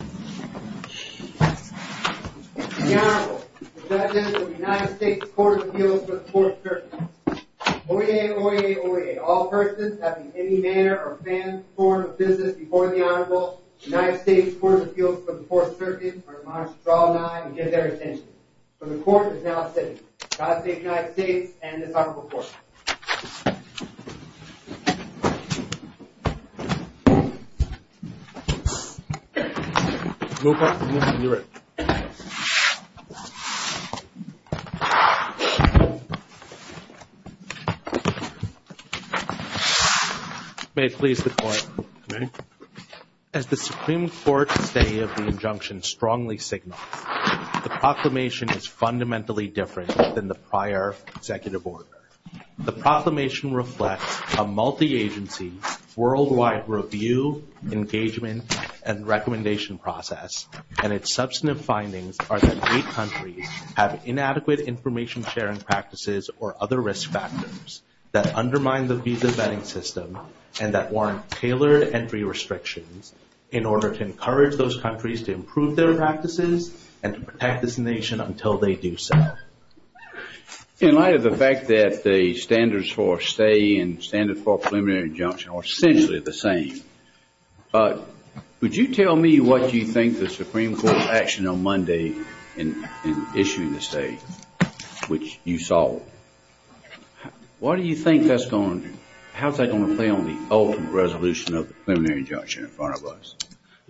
The Honorable President of the United States Court of Appeals for the Fourth Circuit. Oyez, oyez, oyez. All persons having any manner or form of business before the Honorable United States Court of Appeals for the Fourth Circuit are admonished to call nine and get their attention. The Court is now in session. Godspeed to the United States and the Honorable Court. Move up. Move to your right. May it please the Court. As the Supreme Court today of the injunction strongly signals, the proclamation is fundamentally different than the prior executive order. The proclamation reflects a multi-agency, worldwide review, engagement, and recommendation process, and its substantive findings are that eight countries have inadequate information sharing practices or other risk factors that undermine the visa vetting system and that warrant tailored entry restrictions in order to encourage those countries to improve their practices and to protect this nation until they do so. In light of the fact that the standards for a stay and standards for a preliminary injunction are essentially the same, would you tell me what you think the Supreme Court's action on Monday in issuing the stay, which you saw, what do you think that's going to – how's that going to play on the ultimate resolution of the preliminary injunction in front of us?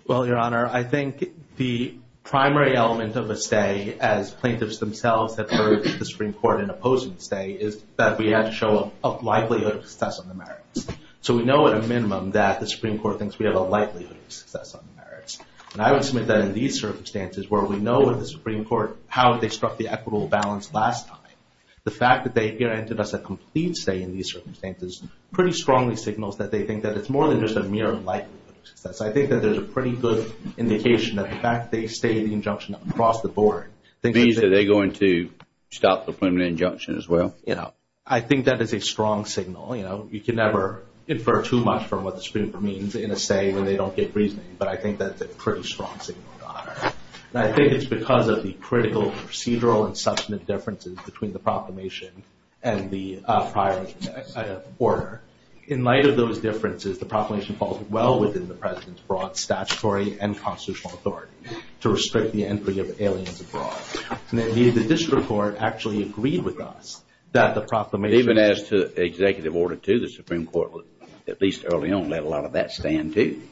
Well, Your Honor, I think the primary element of a stay, as plaintiffs themselves have heard the Supreme Court in opposing the stay, is that we have to show a likelihood of success on the merits. So we know at a minimum that the Supreme Court thinks we have a likelihood of success on the merits. And I would submit that in these circumstances, where we know in the Supreme Court how they struck the equitable balance last time, the fact that they granted us a complete stay in these circumstances pretty strongly signals that they think that it's more than just a mere likelihood of success. I think that there's a pretty good indication that the fact that they stayed in the injunction across the board – Do you think they're going to stop the preliminary injunction as well? I think that is a strong signal. You can never infer too much from what the Supreme Court means in a stay when they don't get reasoning, but I think that's a pretty strong signal, Your Honor. And I think it's because of the critical procedural and substantive differences between the proclamation and the prior order. In light of those differences, the proclamation falls well within the President's broad statutory and constitutional authority to restrict the entry of aliens abroad. And indeed, the district court actually agreed with us that the proclamation – Even as to Executive Order 2, the Supreme Court, at least early on, let a lot of that stand too.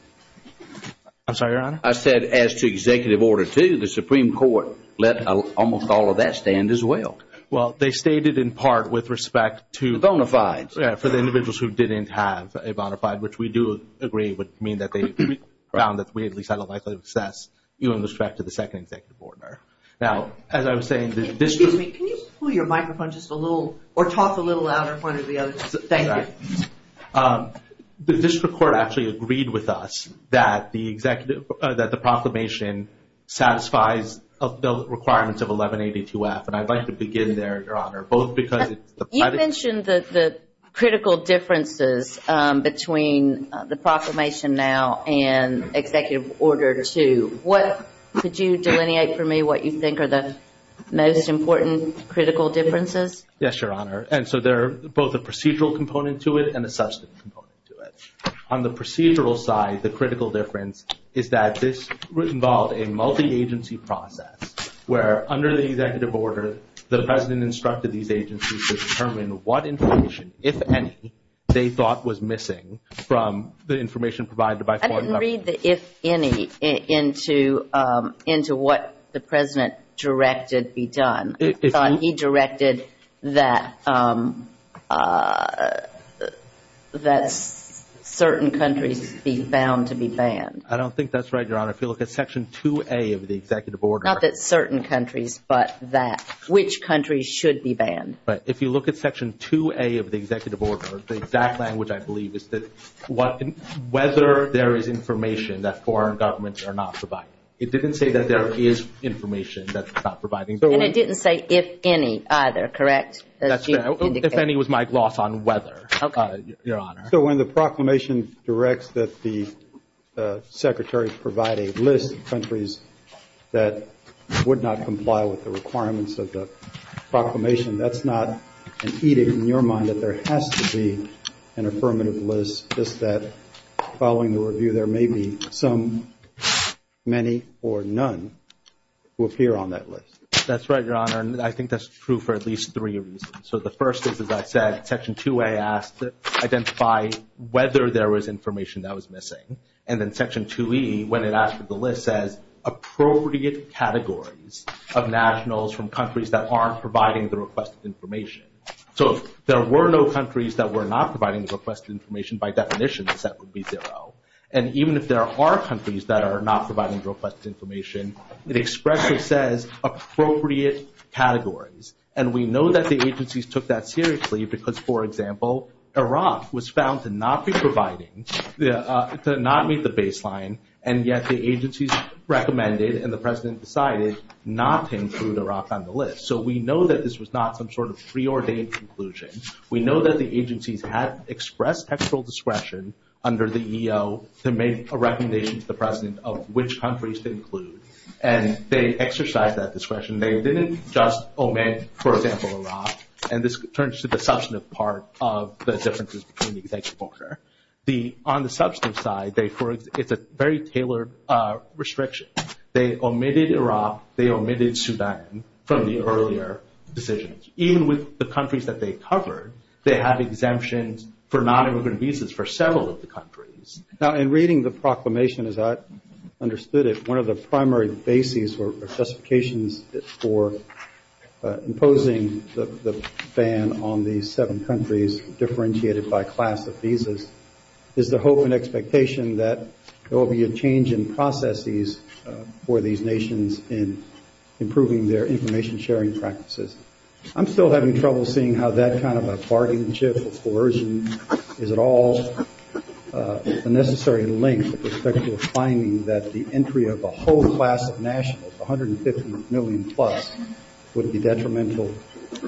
I'm sorry, Your Honor? I said as to Executive Order 2, the Supreme Court let almost all of that stand as well. Well, they stated in part with respect to – The bona fides. For the individuals who didn't have a bona fide, which we do agree would mean that they found that we at least had a likely success even with respect to the second Executive Order. Now, as I was saying, the district – Excuse me, can you pull your microphone just a little or talk a little louder in front of the others? Thank you. The district court actually agreed with us that the proclamation satisfies the requirements of 1182F. And I'd like to begin there, Your Honor, both because – You mentioned the critical differences between the proclamation now and Executive Order 2. Could you delineate for me what you think are the most important critical differences? Yes, Your Honor. And so there are both a procedural component to it and a substantive component to it. On the procedural side, the critical difference is that this involved a multi-agency process where under the Executive Order, the President instructed these agencies to determine what information, if any, they thought was missing from the information provided by – I didn't read the if any into what the President directed be done. He directed that certain countries be bound to be banned. I don't think that's right, Your Honor. If you look at Section 2A of the Executive Order – Not that certain countries, but that which countries should be banned. But if you look at Section 2A of the Executive Order, the exact language, I believe, is that whether there is information that foreign governments are not providing. It didn't say that there is information that's not provided. And it didn't say if any either, correct? That's correct. If any was my gloss on whether, Your Honor. So when the proclamation directs that the Secretary provide a list of countries that would not comply with the requirements of the proclamation, that's not an edict in your mind that there has to be an affirmative list, just that following the review there may be some, many, or none who appear on that list? That's right, Your Honor. And I think that's true for at least three reasons. So the first is, as I said, Section 2A asks to identify whether there was information that was missing. And then Section 2E, when it asks for the list, says appropriate categories of nationals from countries that aren't providing the requested information. So if there were no countries that were not providing the requested information, by definition, the set would be zero. And even if there are countries that are not providing the requested information, it expressly says appropriate categories. And we know that the agencies took that seriously because, for example, Iraq was found to not be providing, to not meet the baseline, and yet the agencies recommended and the President decided not to include Iraq on the list. So we know that this was not some sort of preordained conclusion. We know that the agencies have expressed textual discretion under the EO to make a recommendation to the President of which countries to include. And they exercised that discretion. They didn't just omit, for example, Iraq. And this turns to the substantive part of the differences between the exemptions. On the substantive side, it's a very tailored restriction. They omitted Iraq. They omitted Sudan from the earlier decisions. Even with the countries that they covered, they have exemptions for nonimmigrant visas for several of the countries. Now, in reading the proclamation as I understood it, one of the primary bases or specifications for imposing the ban on these seven countries differentiated by class of visas is the hope and expectation that there will be a change in processes for these nations in improving their information sharing practices. I'm still having trouble seeing how that kind of a bargain chip or coercion is at all a necessary link with respect to a finding that the entry of a whole class of nationals, 150 million plus, would be detrimental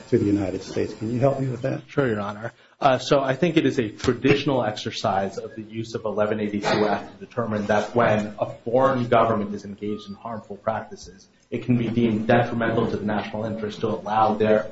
to the United States. Can you help me with that? Sure, Your Honor. So I think it is a traditional exercise of the use of 1182-F to determine that when a foreign government is engaged in harmful practices, it can be deemed detrimental to the national interest to allow the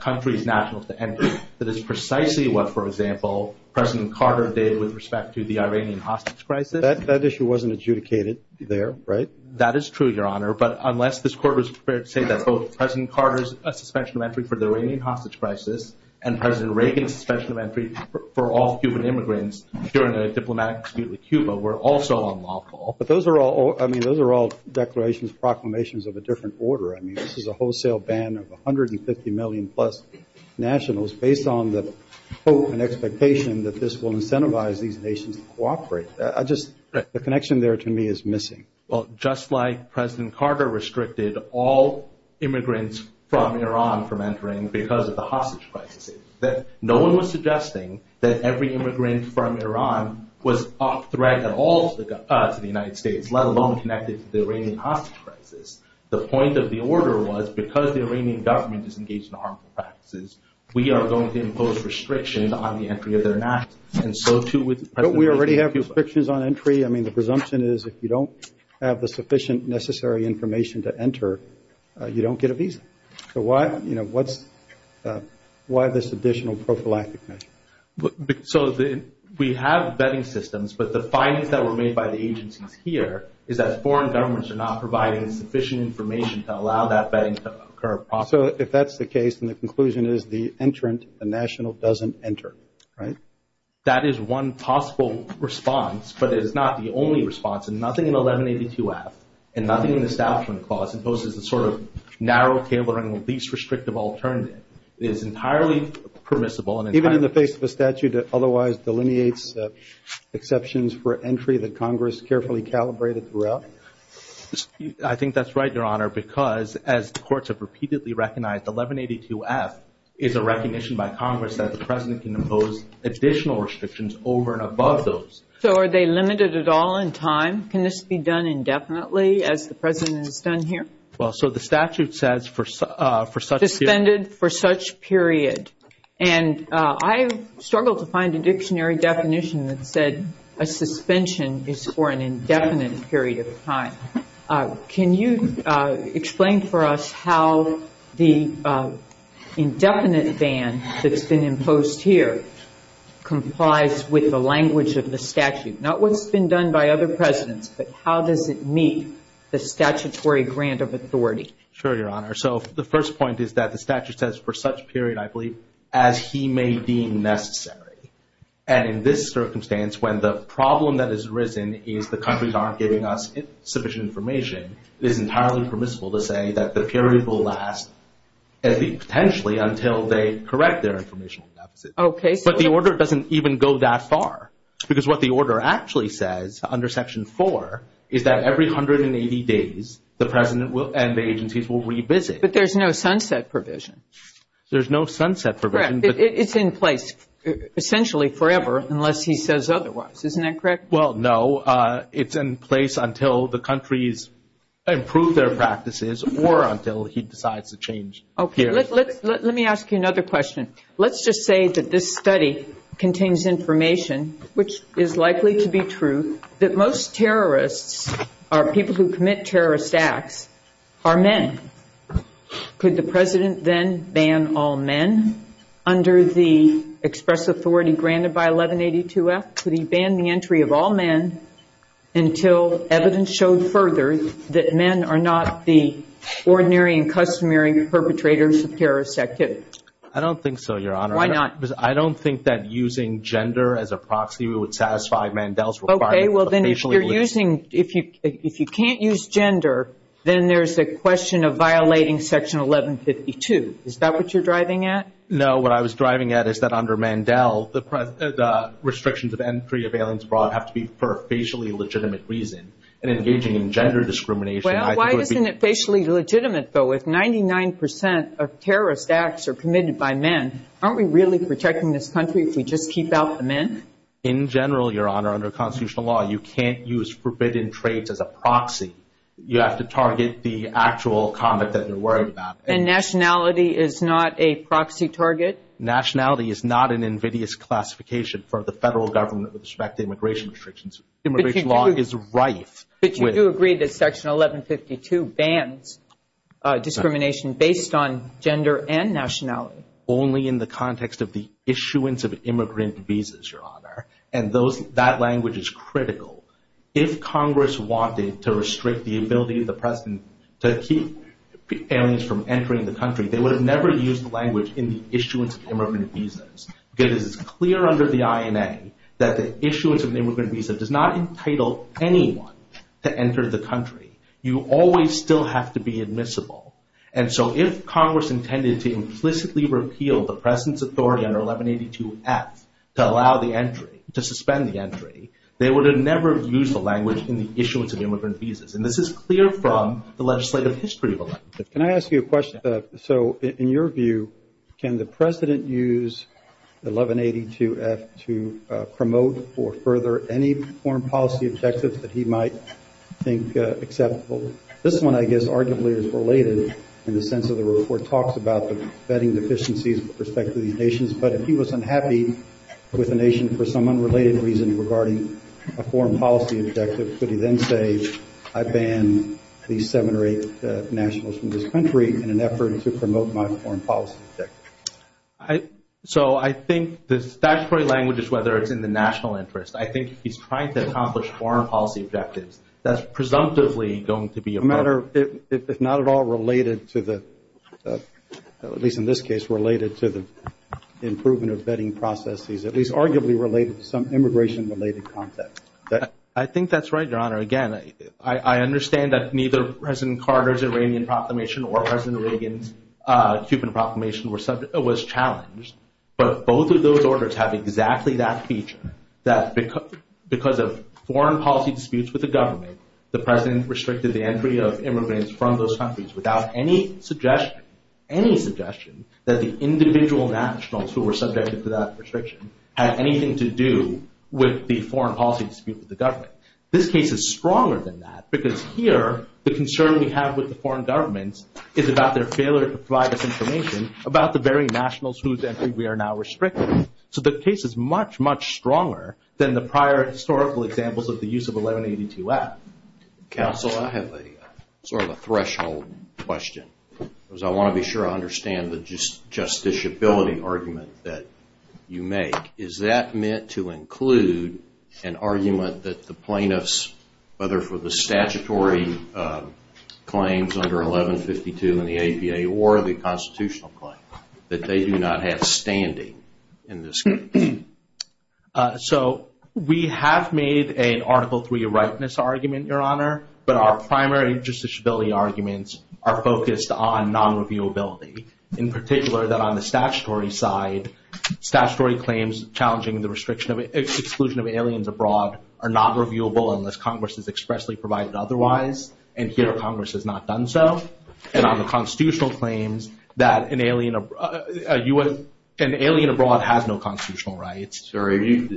country's nationals to enter. That is precisely what, for example, President Carter did with respect to the Iranian hostage crisis. That issue wasn't adjudicated there, right? That is true, Your Honor. But unless this Court was prepared to say that both President Carter's suspension of entry for the Iranian hostage crisis and President Reagan's suspension of entry for all Cuban immigrants during the diplomatic dispute with Cuba were also unlawful. But those are all, I mean, those are all declarations, proclamations of a different order. I mean, this is a wholesale ban of 150 million plus nationals based on the hope and expectation that this will incentivize these nations to cooperate. I just, the connection there to me is missing. Well, just like President Carter restricted all immigrants from Iran from entering because of the hostage crisis, that no one was suggesting that every immigrant from Iran was off-threat at all to the United States, let alone connected to the Iranian hostage crisis. The point of the order was because the Iranian government is engaged in harmful practices, we are going to impose restrictions on the entry of the nationals. And so, too, would— Don't we already have restrictions on entry? I mean, the presumption is if you don't have the sufficient necessary information to enter, you don't get a visa. So, why this additional prophylactic measure? So, we have vetting systems, but the findings that were made by the agencies here is that foreign governments are not providing sufficient information to allow that vetting to occur. So, if that's the case, then the conclusion is the entrant, the national, doesn't enter, right? That is one possible response, but it is not the only response. So, nothing in 1182-F and nothing in the Establishment Clause imposes a sort of narrow, cable-hanging, least restrictive alternative. It is entirely permissible and entirely— Even in the face of a statute that otherwise delineates exceptions for entry that Congress carefully calibrated throughout? I think that's right, Your Honor, because as courts have repeatedly recognized, 1182-F is a recognition by Congress that the President can impose additional restrictions over and above those. So, are they limited at all in time? Can this be done indefinitely as the President has done here? Well, so the statute says for such— Suspended for such period. And I struggled to find a dictionary definition that said a suspension is for an indefinite period of time. Can you explain for us how the indefinite ban that's been imposed here complies with the language of the statute? Not what's been done by other presidents, but how does it meet the statutory grant of authority? Sure, Your Honor. So, the first point is that the statute says for such period, I believe, as he may deem necessary. And in this circumstance, when the problem that has arisen is the countries aren't giving us sufficient information, it is entirely permissible to say that the period will last, potentially, until they correct their information. Okay. But the order doesn't even go that far. Because what the order actually says under Section 4 is that every 180 days the President and the agencies will revisit. But there's no sunset provision. There's no sunset provision. It's in place essentially forever unless he says otherwise. Isn't that correct? Well, no. It's in place until the countries improve their practices or until he decides to change periods. Let me ask you another question. Let's just say that this study contains information, which is likely to be true, that most terrorists or people who commit terrorist acts are men. Could the President then ban all men under the express authority granted by 1182-F? Could he ban the entry of all men until evidence shows further that men are not the ordinary and customary perpetrators of terrorist activities? I don't think so, Your Honor. Why not? Because I don't think that using gender as a proxy would satisfy Mandel's requirements. Okay. Well, then if you're using – if you can't use gender, then there's the question of violating Section 1152. Is that what you're driving at? No. What I was driving at is that under Mandel, the restrictions of entry of aliens abroad have to be for a facially legitimate reason. And engaging in gender discrimination – Well, why isn't it facially legitimate, though? If 99% of terrorist acts are committed by men, aren't we really protecting this country if we just keep out the men? In general, Your Honor, under constitutional law, you can't use forbidden traits as a proxy. You have to target the actual conduct that they're worried about. And nationality is not a proxy target? Nationality is not an invidious classification for the federal government with respect to immigration restrictions. Immigration law is rife with – But you do agree that Section 1152 bans discrimination based on gender and nationality. Only in the context of the issuance of immigrant visas, Your Honor. And that language is critical. If Congress wanted to restrict the ability of the President to keep aliens from entering the country, they would have never used the language in the issuance of immigrant visas. It is clear under the INA that the issuance of the immigrant visa does not entitle anyone to enter the country. You always still have to be admissible. And so if Congress intended to implicitly repeal the President's authority under 1182F to allow the entry, to suspend the entry, they would have never used the language in the issuance of immigrant visas. And this is clear from the legislative history of the language. Can I ask you a question? So in your view, can the President use 1182F to promote or further any foreign policy objectives that he might think acceptable? This one, I guess, arguably is related in the sense that the report talks about the vetting deficiencies with respect to these nations. But if he was unhappy with a nation for some unrelated reason regarding a foreign policy objective, would he then say, I ban these seven or eight nationals from this country in an effort to promote my foreign policy objective? So I think the statutory language is whether it's in the national interest. I think he's trying to accomplish foreign policy objectives. If not at all related to the, at least in this case, related to the improvement of vetting processes, at least arguably related to some immigration-related context. I think that's right, Your Honor. Again, I understand that neither President Carter's Iranian proclamation or President Reagan's Cuban proclamation was challenged. But both of those orders have exactly that feature, that because of foreign policy disputes with the government, the President restricted the entry of immigrants from those countries without any suggestion, any suggestion that the individual nationals who were subjected to that restriction had anything to do with the foreign policy dispute with the government. This case is stronger than that because here, the concern we have with the foreign governments is about their failure to provide us information about the very nationals whose entry we are now restricting. So the case is much, much stronger than the prior historical examples of the use of 1182-F. Counsel, I have a sort of a threshold question, because I want to be sure I understand the justiciability argument that you make. Is that meant to include an argument that the plaintiffs, whether for the statutory claims under 1152 in the APA or the constitutional claim, that they do not have standing in this case? So we have made an Article III rightness argument, Your Honor, but our primary justiciability arguments are focused on non-reviewability, in particular that on the statutory side, statutory claims challenging the exclusion of aliens abroad are not reviewable unless Congress has expressly provided otherwise, and here Congress has not done so, and on the constitutional claims that an alien abroad has no constitutional rights. So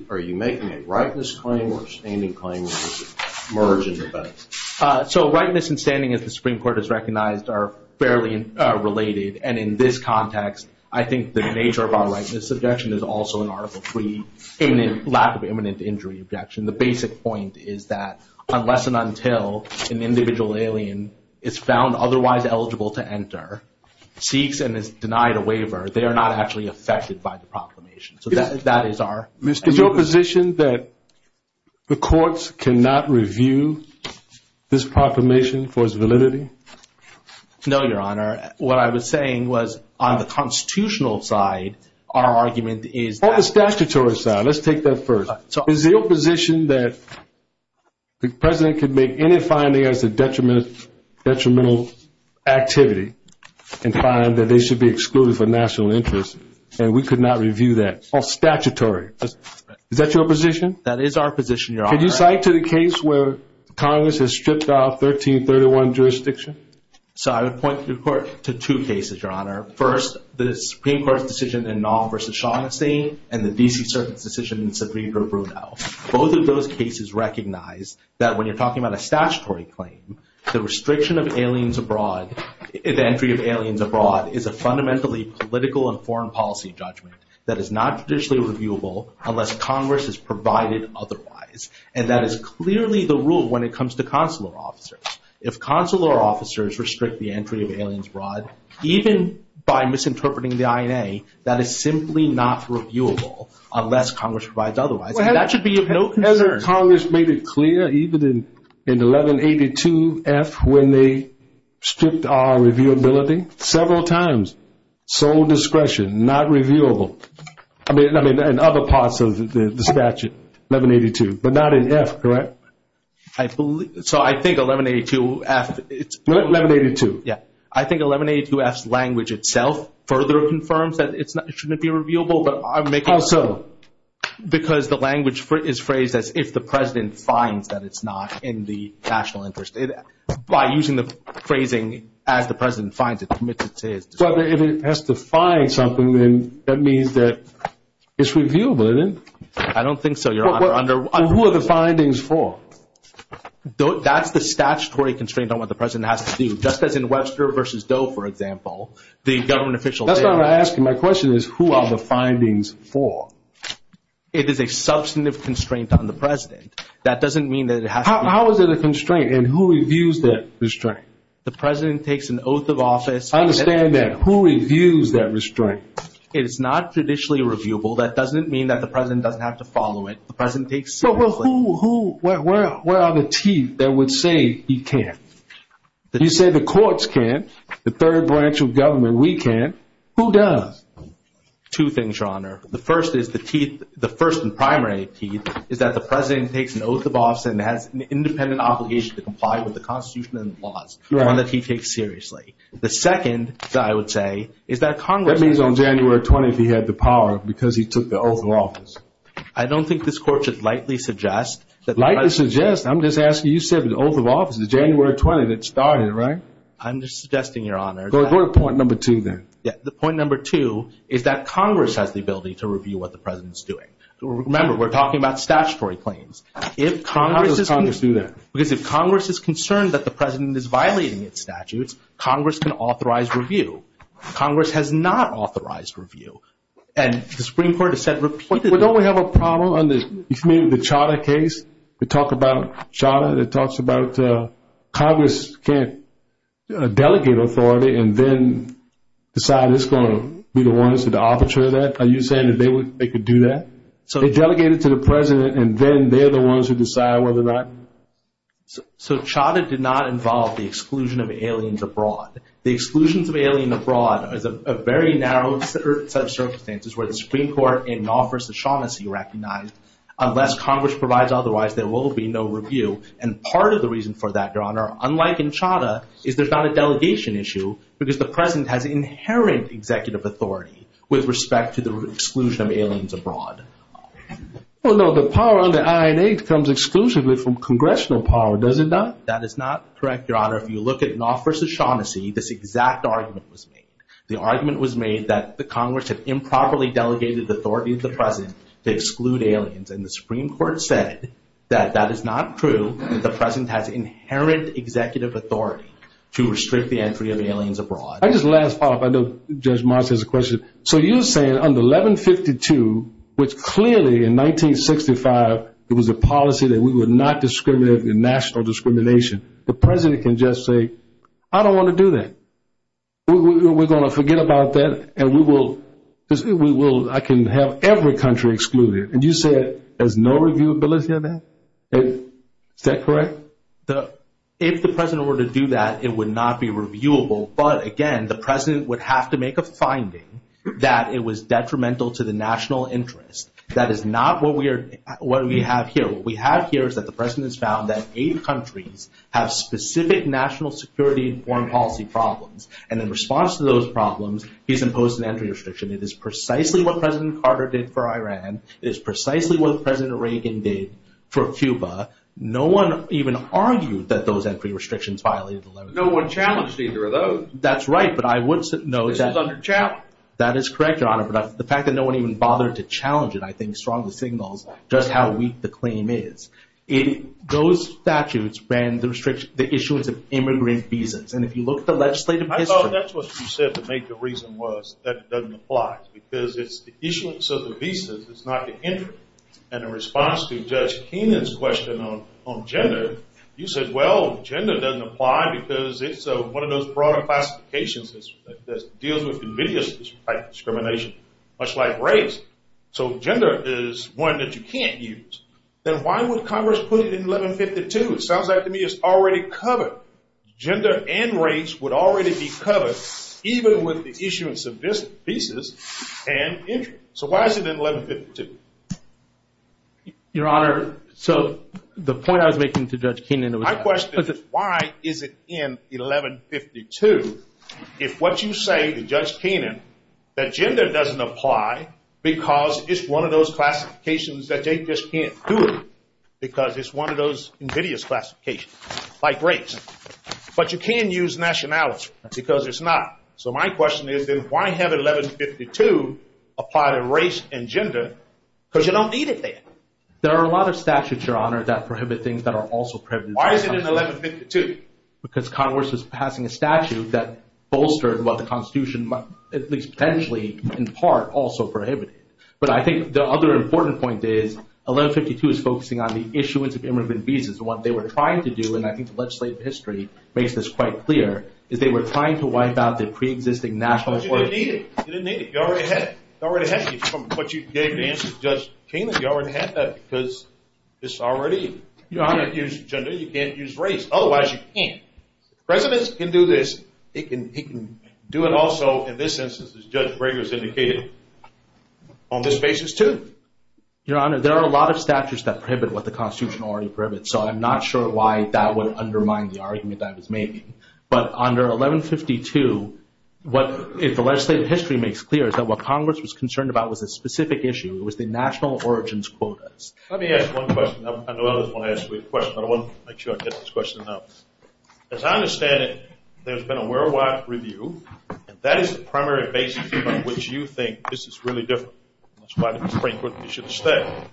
are you making a rightness claim or a standing claim that is merging the two? So rightness and standing, as the Supreme Court has recognized, are fairly related, and in this context I think the nature of our rightness objection is also an Article III, in the lack of imminent injury objection. The basic point is that unless and until an individual alien is found otherwise eligible to enter, seeks and is denied a waiver, they are not actually affected by the proclamation. Is it your position that the courts cannot review this proclamation for its validity? No, Your Honor. What I was saying was on the constitutional side our argument is – On the statutory side. Let's take that first. Is it your position that the President can make any finding as a detrimental activity and find that they should be excluded for national interest, and we could not review that? On statutory. Is that your position? That is our position, Your Honor. Could you cite to the case where Congress has stripped off 1331 jurisdiction? So I would point to two cases, Your Honor. First, the Supreme Court decision in Nong v. Shaughnessy, and the D.C. Circuit decision in Sabrina-Bruneau. Both of those cases recognize that when you're talking about a statutory claim, the restriction of aliens abroad, the entry of aliens abroad, is a fundamentally political and foreign policy judgment that is not officially reviewable unless Congress has provided otherwise. And that is clearly the rule when it comes to consular officers. If consular officers restrict the entry of aliens abroad, even by misinterpreting the INA, that is simply not reviewable unless Congress provides otherwise. That should be of no concern. Congress made it clear, even in 1182-F, when they stripped our reviewability, several times, sole discretion, not reviewable. I mean, in other parts of the statute, 1182, but not in F, correct? So I think 1182-F. What? 1182. I think 1182-F's language itself further confirms that it shouldn't be reviewable, because the language is phrased as, if the president finds that it's not in the national interest. By using the phrasing, as the president finds it, it permits it to be reviewed. But if it has to find something, then that means that it's reviewable, doesn't it? I don't think so, Your Honor. Who are the findings for? That's the statutory constraint on what the president has to do. Just as in Webster v. Doe, for example, the government official said – Your Honor, my question is, who are the findings for? It is a substantive constraint on the president. That doesn't mean that it has to be – How is it a constraint, and who reviews that restraint? The president takes an oath of office – I understand that. Who reviews that restraint? It is not traditionally reviewable. That doesn't mean that the president doesn't have to follow it. The president takes – Well, who – where are the teeth that would say he can't? You say the courts can. The third branch of government, we can. Who does? Two things, Your Honor. The first is the teeth – the first and primary teeth is that the president takes an oath of office and has an independent obligation to comply with the Constitution and the laws, one that he takes seriously. The second, I would say, is that Congress – That means on January 20th he had the power because he took the oath of office. I don't think this court should likely suggest that – Likely suggest? I'm just asking. You said the oath of office is January 20th. It started, right? I'm just suggesting, Your Honor. Go to point number two, then. The point number two is that Congress has the ability to review what the president is doing. Remember, we're talking about statutory claims. How does Congress do that? Because if Congress is concerned that the president is violating its statutes, Congress can authorize review. Congress has not authorized review. And the Supreme Court has said – Well, don't we have a problem in the Chada case? We talk about Chada and it talks about Congress can't delegate authority and then decide who's going to be the ones to arbitrate that. Are you saying that they could do that? So they delegate it to the president and then they're the ones who decide whether or not – So Chada did not involve the exclusion of aliens abroad. The exclusion of aliens abroad is a very narrow set of circumstances where the Supreme Court in Knopf v. Shaughnessy recognized unless Congress provides otherwise, there will be no review. And part of the reason for that, Your Honor, unlike in Chada, is there's not a delegation issue because the president has inherent executive authority with respect to the exclusion of aliens abroad. Well, no, the power under INA comes exclusively from congressional power, does it not? That is not correct, Your Honor. If you look at Knopf v. Shaughnessy, this exact argument was made. The Congress has improperly delegated the authority of the president to exclude aliens. And the Supreme Court said that that is not true. The president has inherent executive authority to restrict the entry of aliens abroad. I'll just last off. I know Judge Moss has a question. So you're saying under 1152, which clearly in 1965, it was a policy that we would not discriminate in national discrimination, the president can just say, I don't want to do that. We're going to forget about that and we will, I can have every country excluded. And you say there's no reviewability of that? Is that correct? If the president were to do that, it would not be reviewable. But, again, the president would have to make a finding that it was detrimental to the national interest. That is not what we have here. What we have here is that the president has found that eight countries have specific national security and foreign policy problems. And in response to those problems, he's imposed an entry restriction. It is precisely what President Carter did for Iran. It is precisely what President Reagan did for Cuba. No one even argued that those entry restrictions violated the 1152. No one challenged either of those. That's right, but I would say no. It was under challenge. That is correct, Your Honor, but the fact that no one even bothered to challenge it, I think, strongly signals just how weak the claim is. Those statutes restrict the issuance of immigrant visas. And if you look at the legislative history— I thought that's what you said to make the reason was that it doesn't apply, because it's the issuance of the visas that's not the entry. And in response to Judge Keenan's question on gender, you said, well, gender doesn't apply because it's one of those broader classifications that deals with religious discrimination, much like race. So gender is one that you can't use. Then why would Congress put it in 1152? It sounds like to me it's already covered. Gender and race would already be covered, even with the issuance of visas and entry. So why is it in 1152? Your Honor, so the point I was making to Judge Keenan— My question is, why is it in 1152 if what you say to Judge Keenan, that gender doesn't apply because it's one of those classifications that they just can't do it, because it's one of those invidious classifications, like race? But you can use nationality, because it's not. So my question is, then why have 1152 apply to race and gender? Because you don't need it there. There are a lot of statutes, Your Honor, that prohibit things that are also prohibited. Why is it in 1152? Because Congress is passing a statute that bolsters what the Constitution, at least potentially, in part, also prohibits. But I think the other important point is, 1152 is focusing on the issuance of immigrant visas. What they were trying to do, and I think the legislative history makes this quite clear, is they were trying to wipe out the preexisting national— But you don't need it. You don't need it. You already have it. You already have it. But you gave the answer to Judge Keenan. You already have that, because it's already— Your Honor, if you use gender, you can't use race. Otherwise, you can't. Presidents can do this. They can do it also, in this instance, as Judge Breger has indicated, on this basis, too. Your Honor, there are a lot of statutes that prohibit what the Constitution already prohibits, so I'm not sure why that would undermine the argument that I was making. But under 1152, what the legislative history makes clear is that what Congress was concerned about was a specific issue. It was the national origins quotas. Let me ask one question. I know others want to ask you a question, but I want to make sure I get this question out. As I understand it, there's been a worldwide review, and that is the primary basis on which you think this is really different. That's why, frankly, we should stay.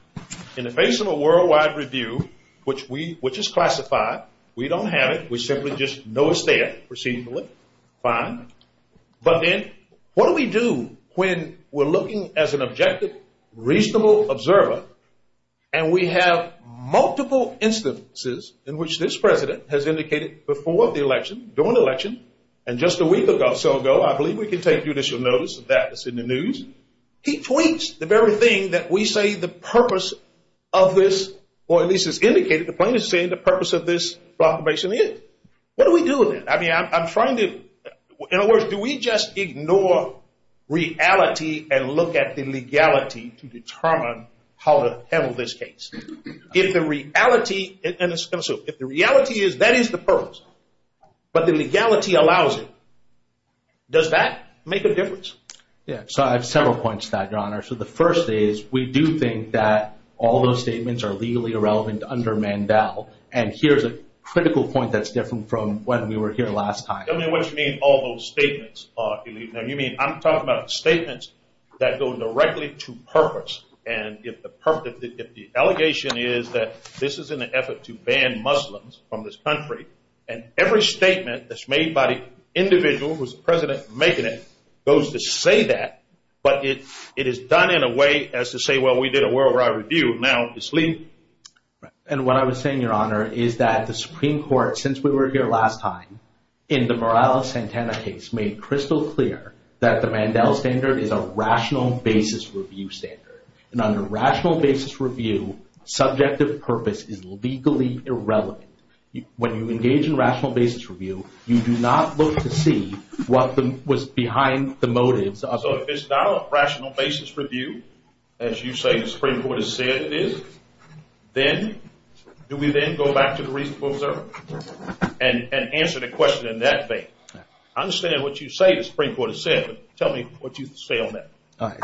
In the face of a worldwide review, which is classified, we don't have it. We simply just know it's there, procedurally. Fine. But then, what do we do when we're looking as an objective, reasonable observer, and we have multiple instances in which this president has indicated before the election, during the election, and just a week or so ago. I believe we can take judicial notice of that. It's in the news. He points the very thing that we say the purpose of this, or at least has indicated the plaintiff's saying the purpose of this proclamation is. What do we do with it? I mean, I'm trying to, in other words, do we just ignore reality and look at the legality to determine how to handle this case? If the reality is that is the purpose, but the legality allows it, does that make a difference? Yeah, so I have several points to that, Your Honor. So the first is we do think that all those statements are legally irrelevant under Mandel, and here's a critical point that's different from when we were here last time. Tell me what you mean, all those statements. You mean I'm talking about statements that go directly to purpose, and if the allegation is that this is an effort to ban Muslims from this country, and every statement that's made by the individual who's the president making it goes to say that, but it is done in a way as to say, well, we did a worldwide review, now it's legal. And what I was saying, Your Honor, is that the Supreme Court, since we were here last time, in the Morales-Santana case, made crystal clear that the Mandel standard is a rational basis review standard, and under rational basis review, subjective purpose is legally irrelevant. When you engage in rational basis review, you do not look to see what was behind the motives. So if it's not a rational basis review, as you say the Supreme Court has said it is, then do we then go back to the reasonable observer and answer the question in that vein? I understand what you say the Supreme Court has said, but tell me what you say on that.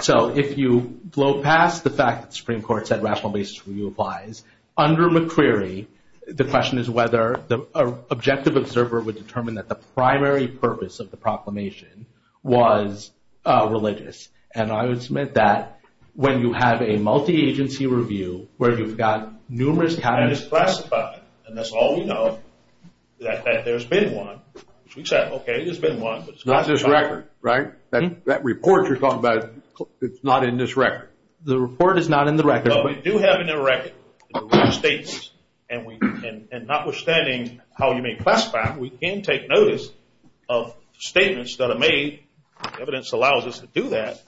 So if you blow past the fact that the Supreme Court said rational basis review applies, under McCreary, the question is whether the objective observer would determine that the primary purpose of the proclamation was religious. And I would submit that when you have a multi-agency review where you've got numerous cabinets classified, and that's all we know, that there's been one. We said, okay, there's been one. It's not in this record, right? That report you're talking about, it's not in this record. The report is not in the record. No, we do have it in the record. And notwithstanding how you may classify it, we can take notice of statements that are made. Evidence allows us to do that.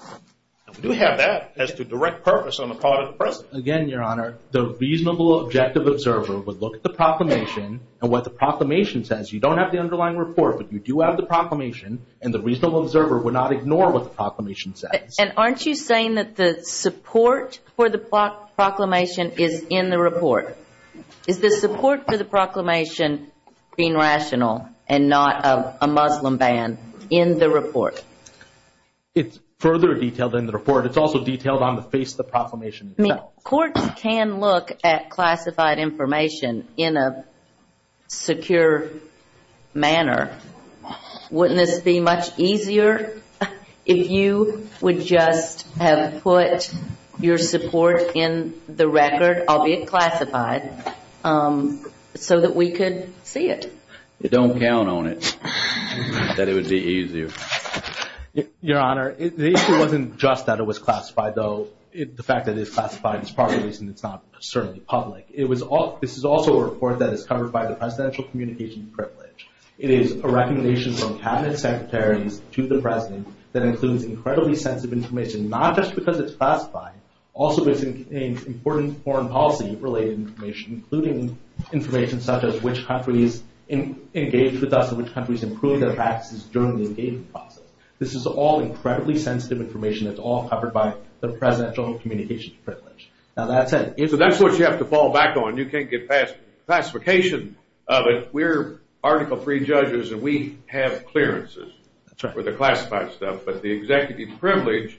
We do have that as the direct purpose on the part of the President. Again, Your Honor, the reasonable objective observer would look at the proclamation and what the proclamation says. You don't have the underlying report, but you do have the proclamation, and the reasonable observer would not ignore what the proclamation says. And aren't you saying that the support for the proclamation is in the report? Is the support for the proclamation being rational and not a Muslim ban in the report? It's further detailed in the report. It's also detailed on the face of the proclamation. Courts can look at classified information in a secure manner. Wouldn't it be much easier if you would just have put your support in the record, albeit classified, so that we could see it? Don't count on it, that it would be easier. Your Honor, the issue wasn't just that it was classified, though. The fact that it's classified is part of the reason it's not certainly public. This is also a report that is covered by the Presidential Communications Privilege. It is a recommendation from Cabinet Secretaries to the President that includes incredibly sensitive information, not just because it's classified, also because it contains important foreign policy-related information, including information such as which countries engaged with us and which countries improved their practices during the engagement process. This is all incredibly sensitive information. It's all covered by the Presidential Communications Privilege. Now, that's it. That's what you have to fall back on. You can't get past classification of it. We're article-free judges, and we have clearances for the classified stuff, but the Executive Privilege,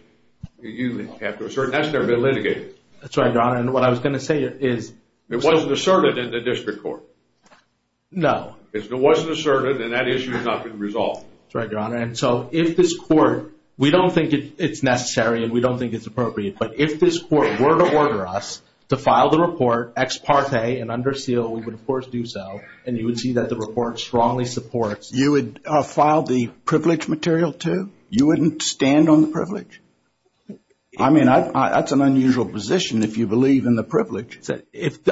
you have to assert, and that's never been litigated. That's right, Your Honor. And what I was going to say is— It wasn't asserted in the district court. No. If it wasn't asserted, then that issue is not going to be resolved. That's right, Your Honor. And so if this court—we don't think it's necessary, and we don't think it's appropriate, but if this court were to order us to file the report ex parte and under seal, we would, of course, do so, and you would see that the report strongly supports— You would file the privilege material, too? You wouldn't stand on the privilege? I mean, that's an unusual position if you believe in the privilege.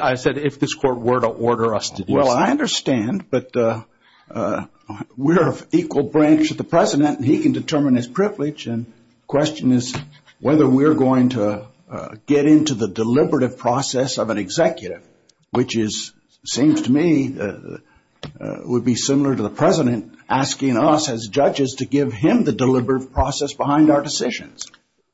I said if this court were to order us to do so. Well, I understand, but we're of equal branch to the President, and he can determine his privilege, and the question is whether we're going to get into the deliberative process of an executive, which seems to me would be similar to the President asking us, as judges, to give him the deliberate process behind our decisions.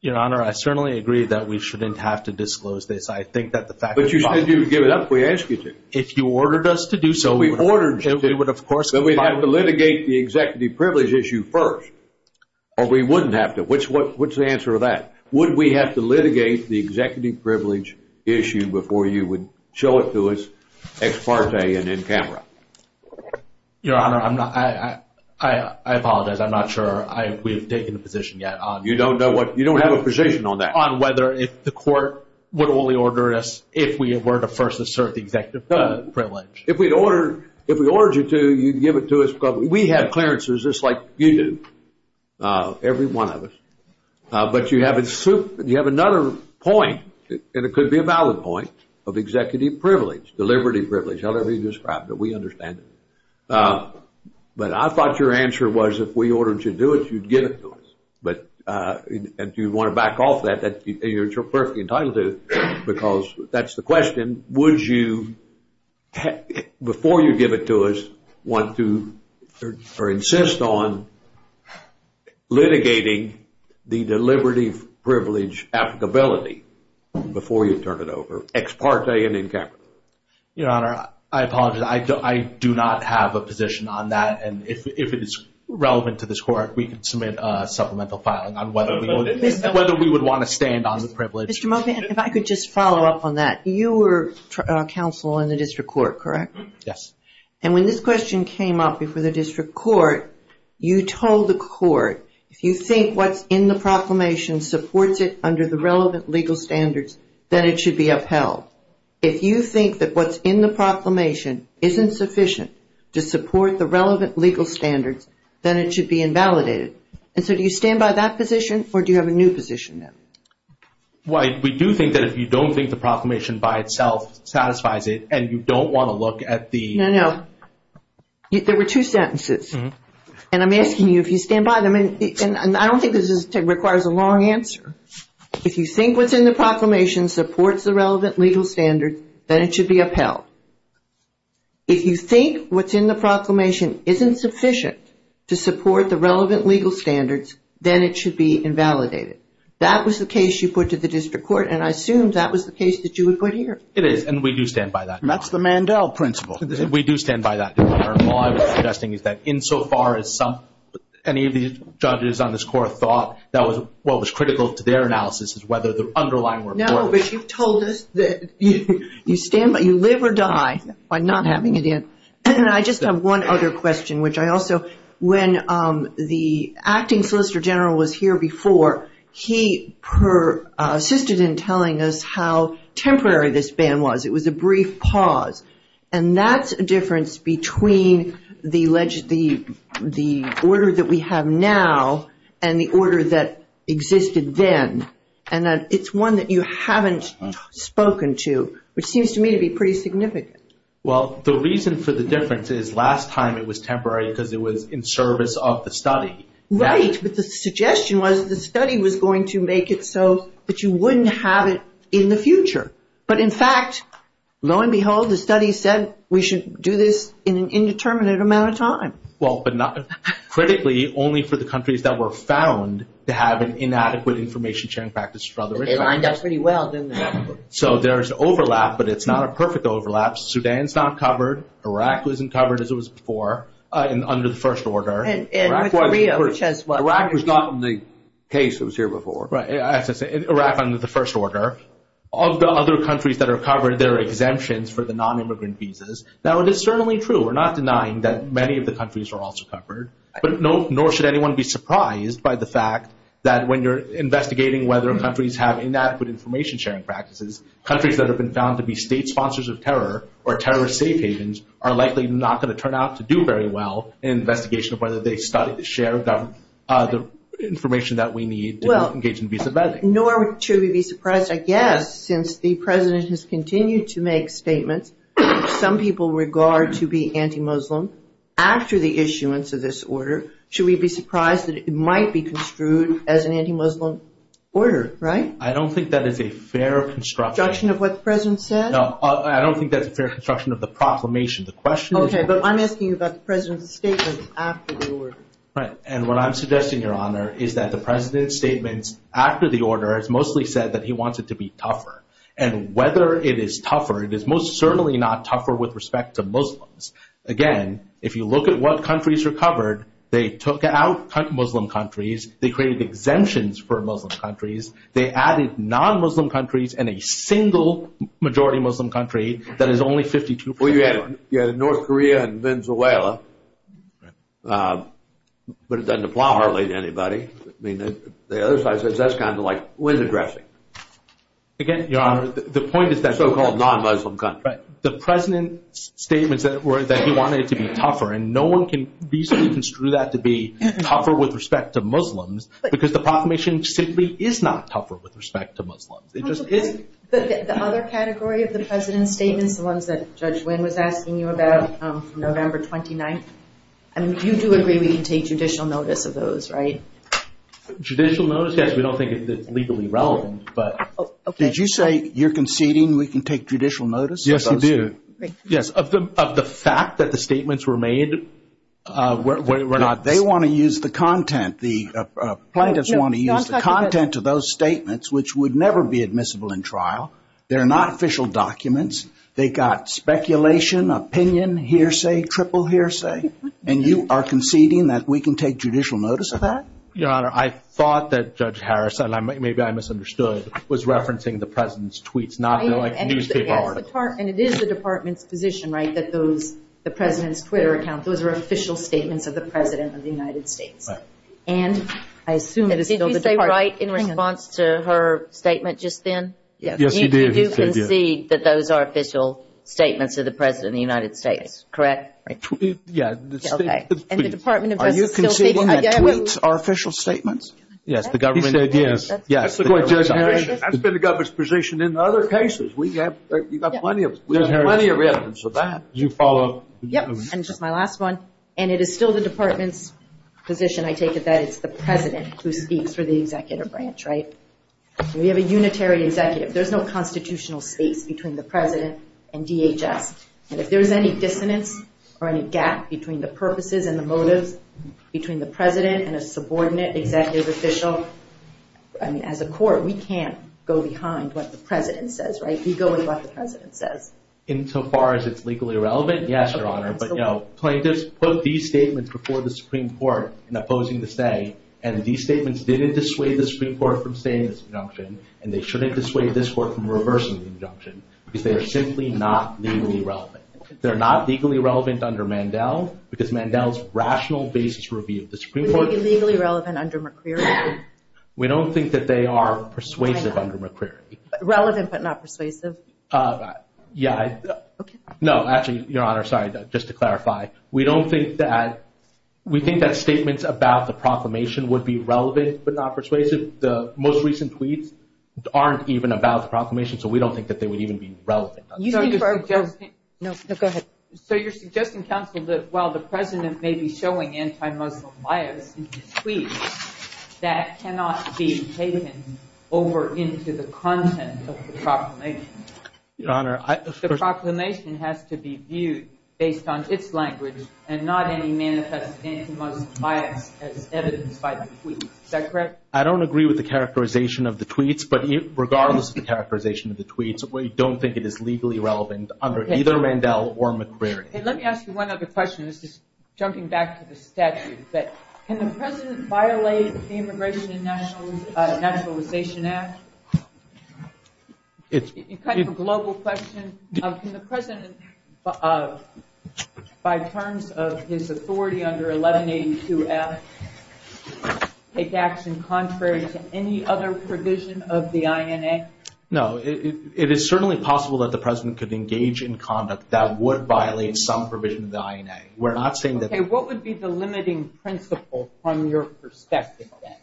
Your Honor, I certainly agree that we shouldn't have to disclose this. I think that the fact— But you said you would give it up if we asked you to. If you ordered us to do so, we would. If we ordered you to do it, then we'd have to litigate the executive privilege issue first. Or we wouldn't have to. What's the answer to that? Would we have to litigate the executive privilege issue before you would show it to us ex parte and in camera? Your Honor, I apologize. I'm not sure we've taken a position yet on— You don't have a position on that? On whether the court would only order us if we were the first to serve the executive privilege. If we ordered you to, you'd give it to us publicly. We have clearances just like you do. Every one of us. But you have another point, and it could be a valid point, of executive privilege, deliberative privilege, however you describe it. We understand it. But I thought your answer was if we ordered you to do it, you'd give it to us. But if you want to back off of that, you're perfectly entitled to, because that's the question. Would you, before you give it to us, want to or insist on litigating the deliberative privilege applicability before you turn it over, ex parte and in camera? Your Honor, I apologize. I do not have a position on that. And if it is relevant to this court, we can submit a supplemental filing on whether we would want to stand on the privilege. If I could just follow up on that. You were counsel in the district court, correct? Yes. And when this question came up before the district court, you told the court, if you think what's in the proclamation supports it under the relevant legal standards, then it should be upheld. If you think that what's in the proclamation isn't sufficient to support the relevant legal standards, then it should be invalidated. And so do you stand by that position, or do you have a new position now? Dwight, we do think that if you don't think the proclamation by itself satisfies it, and you don't want to look at the... No, no. There were two sentences. And I'm asking you if you stand by them. And I don't think this requires a long answer. If you think what's in the proclamation supports the relevant legal standards, then it should be upheld. If you think what's in the proclamation isn't sufficient to support the relevant legal standards, then it should be invalidated. That was the case you put to the district court, and I assumed that was the case that you would put here. It is, and we do stand by that now. That's the Mandel principle. We do stand by that. Our law is suggesting that insofar as any of these judges on this court thought that what was critical to their analysis is whether the underlying report... No, but you told us that you live or die by not having it in. I just have one other question, which I also... When the acting Solicitor General was here before, he assisted in telling us how temporary this ban was. It was a brief pause. And that's a difference between the order that we have now and the order that existed then. And it's one that you haven't spoken to, which seems to me to be pretty significant. Well, the reason for the difference is last time it was temporary because it was in service of the study. Right, but the suggestion was that the study was going to make it so that you wouldn't have it in the future. But, in fact, lo and behold, the study said we should do this in an indeterminate amount of time. Well, but not... Critically, only for the countries that were found to have an inadequate information sharing practice... They lined up pretty well, didn't they? So there's overlap, but it's not a perfect overlap. Sudan's not covered. Iraq wasn't covered as it was before under the first order. And Korea, which has what? Iraq was not in the case that was here before. Right, I have to say. Iraq under the first order. Of the other countries that are covered, there are exemptions for the non-immigrant visas. Now, this is certainly true. We're not denying that many of the countries are also covered. But nor should anyone be surprised by the fact that when you're investigating whether countries have inadequate information sharing practices, countries that have been found to be state sponsors of terror or terrorist state agents are likely not going to turn out to do very well in an investigation of whether they started to share the information that we need to engage in visa vetting. Well, nor should we be surprised, I guess, since the president has continued to make statements that some people regard to be anti-Muslim after the issuance of this order, should we be surprised that it might be construed as an anti-Muslim order, right? I don't think that is a fair construction. Construction of what the president said? No, I don't think that's a fair construction of the proclamation. Okay, but I'm asking about the president's statement after the order. Right, and what I'm suggesting, Your Honor, is that the president's statement after the order has mostly said that he wants it to be tougher. And whether it is tougher, it is most certainly not tougher with respect to Muslims. Again, if you look at what countries are covered, they took out Muslim countries, they created exemptions for Muslim countries, they added non-Muslim countries and a single majority Muslim country that is only 52 percent. Well, you have North Korea and Venezuela, but it doesn't apply hardly to anybody. I mean, the other side says that's kind of like window dressing. Again, Your Honor, the point is that so-called non-Muslim country. Right. The president's statements that he wanted it to be tougher, and no one can deconstruct that to be tougher with respect to Muslims because the proclamation simply is not tougher with respect to Muslims. But the other category of the president's statements, the ones that Judge Wynn was asking you about from November 29th, you do agree we can take judicial notice of those, right? Judicial notice? Yes, we don't think it's legally relevant. Did you say you're conceding we can take judicial notice of those? Yes, we do. Yes, of the fact that the statements were made? No, they want to use the content. The plaintiffs want to use the content of those statements, which would never be admissible in trial. They're not official documents. They got speculation, opinion, hearsay, triple hearsay, and you are conceding that we can take judicial notice of that? Your Honor, I thought that Judge Harris, and maybe I misunderstood, was referencing the president's tweets, not the newspaper articles. And it is the department's position, right, that the president's Twitter accounts, those are official statements of the president of the United States. Right. And I assume it is still the department's position. Did you say right in response to her statement just then? Yes, she did. You do concede that those are official statements of the president of the United States. Correct? Yes. Okay. And the Department of Justice still takes the data. Are you conceding that tweets are official statements? Yes, the government is. He said yes. Yes. That's been the government's position in other cases. We have plenty of evidence of that. Did you follow up? Yes, and this is my last one. And it is still the department's position, I take it, that it's the president who speaks for the executive branch, right? We have a unitary executive. There's no constitutional space between the president and DHS. And if there's any dissonance or any gap between the purposes and the motives between the president and a subordinate executive official, I mean, as a court, we can't go behind what the president says, right? We go with what the president says. Insofar as it's legally relevant, yes, Your Honor. Put these statements before the Supreme Court in opposing the say, and these statements didn't dissuade the Supreme Court from saying this injunction, and they shouldn't dissuade this court from reversing the injunction, because they are simply not legally relevant. They're not legally relevant under Mandel, because Mandel's rational basis for review of the Supreme Court— Are they legally relevant under McCreary? We don't think that they are persuasive under McCreary. Relevant but not persuasive? Yeah. Okay. No, actually, Your Honor, sorry, just to clarify. We don't think that—we think that statements about the proclamation would be relevant but not persuasive. The most recent tweets aren't even about the proclamation, so we don't think that they would even be relevant. No, go ahead. So you're suggesting something that while the president may be showing anti-Muslim bias in his tweets, that cannot be taken over into the content of the proclamation? Your Honor, I— The proclamation has to be viewed based on its language and not any manifest anti-Muslim bias as evidenced by the tweets. Is that correct? I don't agree with the characterization of the tweets, but regardless of the characterization of the tweets, we don't think it is legally relevant under either Mandel or McCreary. Let me ask you one other question, just jumping back to the statute. Can the president violate the Immigration and Naturalization Act? It's kind of a global question. Can the president, by terms of his authority under 1182-S, take action contrary to any other provision of the INA? No, it is certainly possible that the president could engage in conduct that would violate some provision of the INA. We're not saying that— Okay, what would be the limiting principle from your perspective then?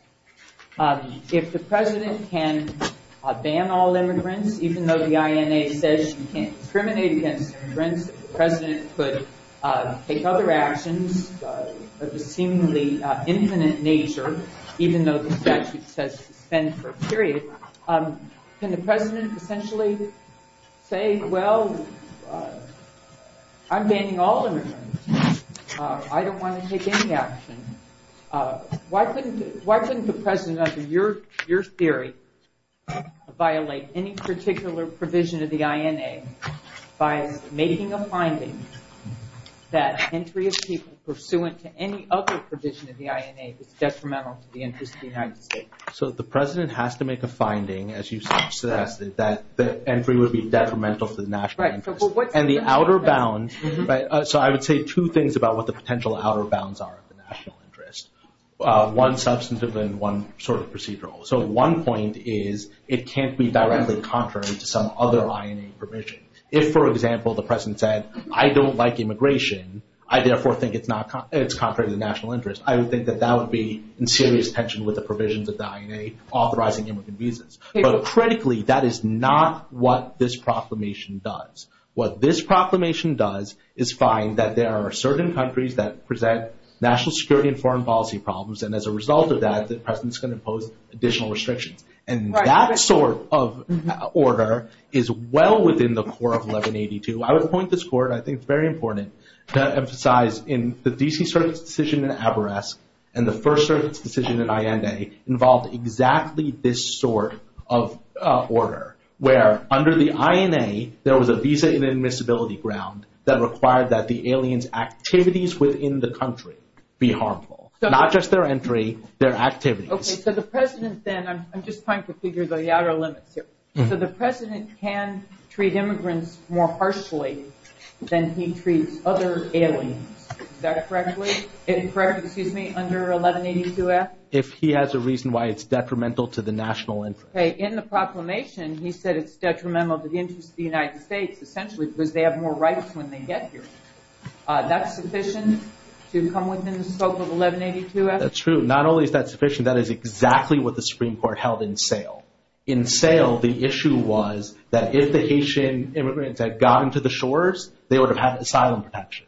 If the president can ban all immigrants, even though the INA says you can't discriminate against immigrants, if the president could take other actions of a seemingly infinite nature, even though the statute says to ban for a period, can the president potentially say, well, I'm banning all immigrants. I don't want to take any actions. Why couldn't the president, under your theory, violate any particular provision of the INA by making a finding that entry of people pursuant to any other provision of the INA is detrimental to the interests of the United States? So the president has to make a finding, as you suggest, that entry would be detrimental to national interests. Right. One substantive and one sort of procedural. So one point is it can't be directly contrary to some other INA provision. If, for example, the president said, I don't like immigration, I therefore think it's contrary to national interest, I would think that that would be in serious tension with the provisions of the INA authorizing immigrant visas. But critically, that is not what this proclamation does. What this proclamation does is find that there are certain countries that present national security and foreign policy problems, and as a result of that, the president's going to impose additional restrictions. And that sort of order is well within the core of 1182. I would point this forward. I think it's very important to emphasize in the D.C. Circuit's decision in Averesk and the first circuit's decision in INA involved exactly this sort of order, where under the INA, there was a visa inadmissibility ground that required that the alien's activities within the country be harmful. Not just their entry, their activities. Okay, so the president then, I'm just trying to figure the outer limits here. So the president can treat immigrants more harshly than he treats other aliens. Is that correct? Is it correct, excuse me, under 1182-S? If he has a reason why it's detrimental to the national interest. Okay, in the proclamation, he said it's detrimental to the interest of the United States essentially because they have more rights when they get here. That's sufficient to come within the scope of 1182-S? That's true. Not only is that sufficient, that is exactly what the Supreme Court held in sale. In sale, the issue was that if the Haitian immigrants had gone to the shores, they would have had asylum protection.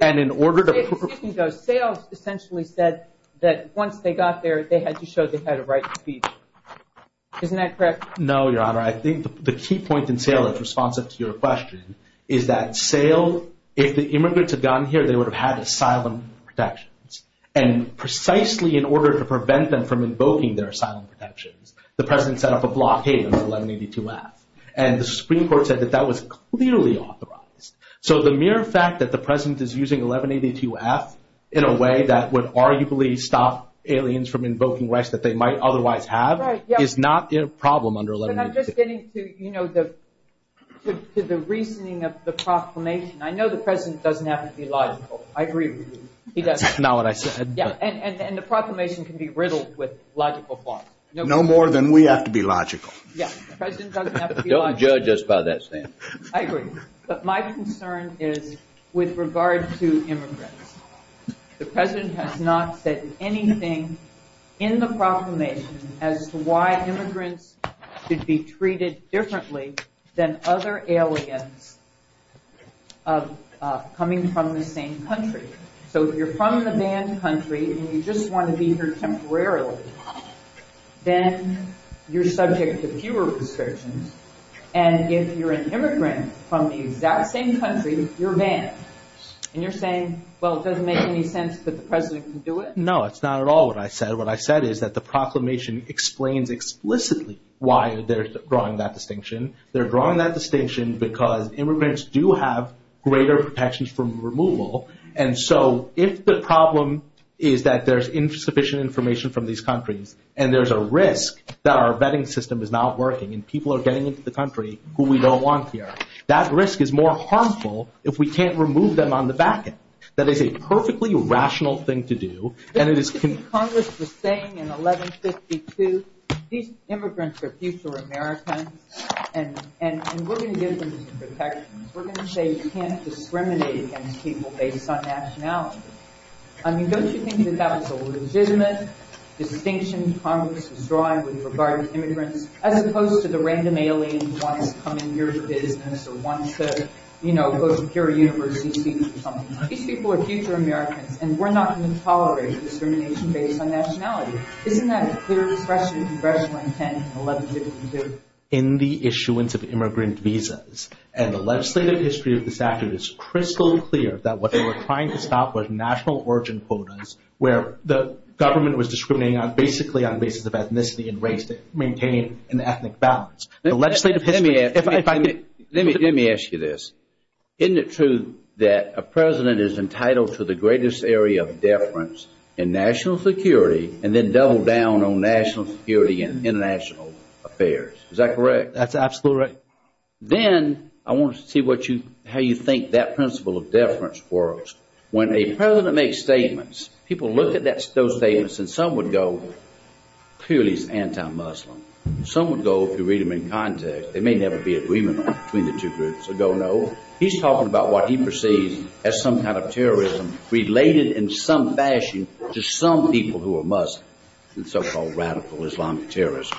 And in order to... Sales essentially said that once they got there, they had to show they had a right to be here. Isn't that correct? No, Your Honor. I think the key point in sale that's responsive to your question is that sale, if the immigrants had gone here, they would have had asylum protections. And precisely in order to prevent them from invoking their asylum protections, the president set up a blockade under 1182-S. And the Supreme Court said that that was clearly authorized. So the mere fact that the president is using 1182-F in a way that would arguably stop aliens from invoking rights that they might otherwise have is not a problem under 1182-S. I'm just getting to the reasoning of the proclamation. I know the president doesn't have to be logical. I agree with you. That's not what I said. And the proclamation can be riddled with logical parts. No more than we have to be logical. Yes, the president doesn't have to be logical. Don't judge us by that, Sam. I agree. But my concern is with regard to immigrants. The president has not said anything in the proclamation as to why immigrants should be treated differently than other aliens coming from the same country. So if you're from a banned country and you just want to be here temporarily, then you're subject to fewer restrictions. And if you're an immigrant from the exact same country, you're banned. And you're saying, well, it doesn't make any sense that the president can do it? No, it's not at all what I said. What I said is that the proclamation explains explicitly why they're drawing that distinction. They're drawing that distinction because immigrants do have greater protections from removal. And so if the problem is that there's insufficient information from these countries and there's a risk that our vetting system is not working and people are getting into the country who we don't want here, that risk is more harmful if we can't remove them on the back end. That is a perfectly rational thing to do. Congress was saying in 1152, immigrants are future Americans. And we're going to give them protections. We're going to say you can't discriminate against people based on nationality. I mean, don't you think that that's a legitimate distinction Congress is drawing with regard to immigrants? As opposed to the random aliens wanting to come in your cities and wanting to go to your universities. These people are future Americans. And we're not going to tolerate discrimination based on nationality. Isn't that a clear expression of congressional intent in 1152? In the issuance of immigrant visas, and the legislative history of this afternoon is crystal clear that what they were trying to stop was national origin quotas where the government was discriminating basically on the basis of ethnicity and race to maintain an ethnic balance. Let me ask you this. Isn't it true that a president is entitled to the greatest area of deference in national security and then double down on national security in international affairs? Is that correct? That's absolutely correct. Then, I want to see how you think that principle of deference works. When a president makes statements, people look at those statements and some would go, clearly it's anti-Muslim. Some would go, if you read them in context, they may never be agreement between the two groups. They don't know. He's talking about what he perceives as some kind of terrorism related in some fashion to some people who are Muslim, the so-called radical Islamic terrorists.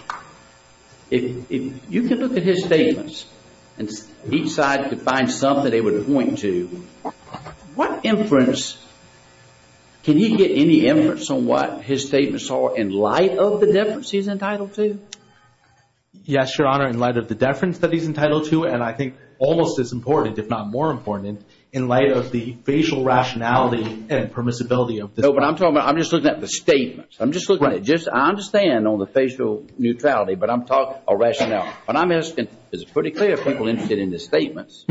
If you could look at his statements and each side could find something they would point to, what inference – can he get any inference on what his statements are in light of the deference he's entitled to? Yes, Your Honor, in light of the deference that he's entitled to, and I think almost as important, if not more important, in light of the facial rationality and permissibility of this. No, but I'm talking about – I'm just looking at the statements. I'm just looking at it. I understand on the facial neutrality, but I'm talking about rationality. What I'm asking is, is it pretty clear if people are interested in his statements?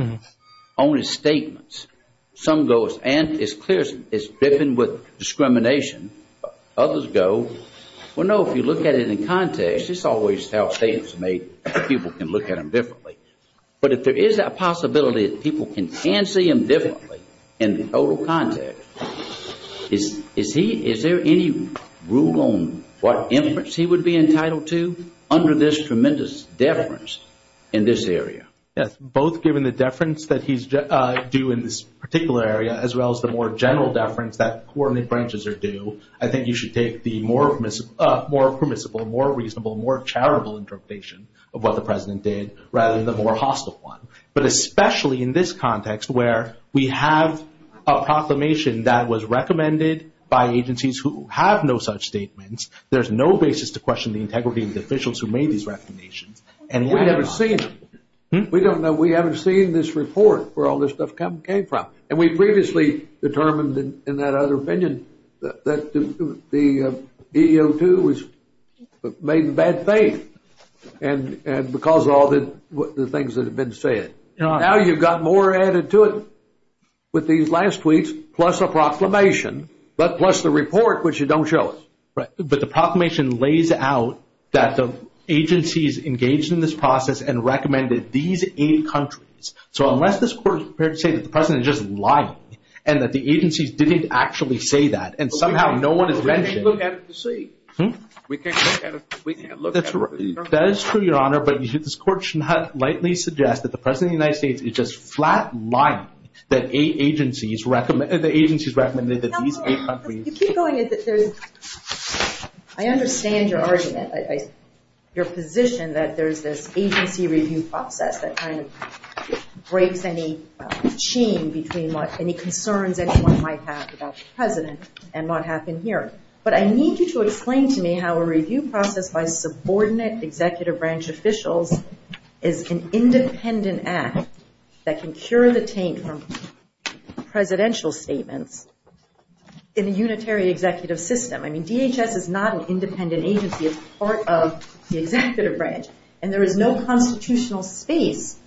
On his statements, some go, and it's clear it's different with discrimination. Others go, well, no, if you look at it in context, it's always self-statement. People can look at them differently. But if there is that possibility that people can see him differently in the total context, is there any rule on what inference he would be entitled to under this tremendous deference in this area? Yes, both given the deference that he's due in this particular area as well as the more general deference that court inferences are due, I think you should take the more permissible, more reasonable, more charitable interpretation of what the president did rather than the more hostile one. But especially in this context where we have a proclamation that was recommended by agencies who have no such statements, there's no basis to question the integrity of the officials who made these recommendations. We haven't seen it. We don't know. We haven't seen this report where all this stuff came from. And we previously determined in that other opinion that the DEO2 was made in bad faith because of all the things that have been said. Now you've got more added to it with these last tweets plus a proclamation plus the report, which you don't show us. But the proclamation lays out that the agencies engaged in this process and recommended these eight countries. So unless this court is prepared to say that the president is just lying and that the agencies didn't actually say that and somehow no one is mentioned. We can't look at it to see. We can't look at it. That is true, Your Honor, but this court should not lightly suggest that the president of the United States is just flat lying that the agencies recommended that these eight countries. You keep going. I understand your argument, your position that there's an agency review process that kind of breaks any chain between any concerns anyone might have about the president and what happened here. But I need you to explain to me how a review process by a subordinate executive branch official is an independent act that can cure the pain from presidential statements in a unitary executive system. I mean, DHS is not an independent agency. It's part of the executive branch, and there is no constitutional faith.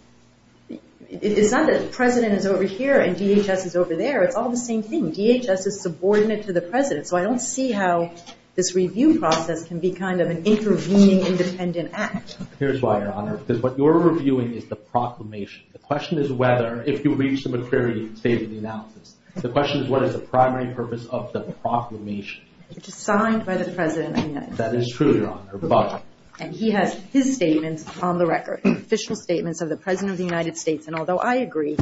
It's not that the president is over here and DHS is over there. It's all the same thing. DHS is subordinate to the president, so I don't see how this review process can be kind of an intervening independent act. Here's why, Your Honor. Because what you're reviewing is the proclamation. The question is whether, if you reach the maturity state of the analysis, the question is what is the primary purpose of the proclamation. It's signed by the president of the United States. That is true, Your Honor. And he has his statements on the record, official statements of the president of the United States. And although I agree,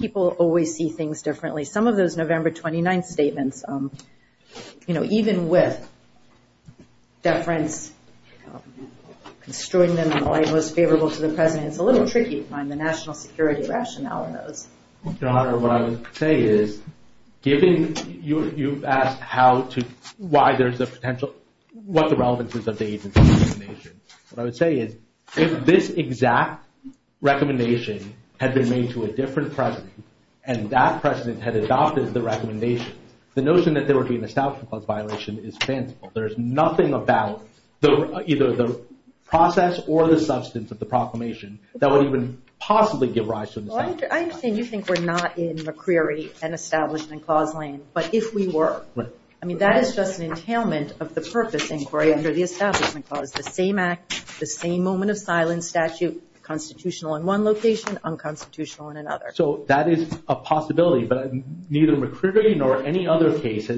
people always see things differently. Some of those November 29th statements, you know, even with different extraordinary and most favorable to the president, it's a little tricky to find the national security rationale for those. Your Honor, what I would say is, given you've asked how to, why there's the potential, what the relevance is of the agency's recommendations. What I would say is, if this exact recommendation had been made to a different president, and that president had adopted the recommendation, the notion that there would be an establishment clause violation is sensible. There's nothing about either the process or the substance of the proclamation that would even possibly give rise to an establishment clause violation. Well, I understand you think we're not in a query, an establishment clause lane, but if we were, I mean, that is just an entailment of the purpose inquiry under the establishment clause. So it's the same act, the same moment of silence statute, constitutional in one location, unconstitutional in another. So that is a possibility, but neither McCrary nor any other case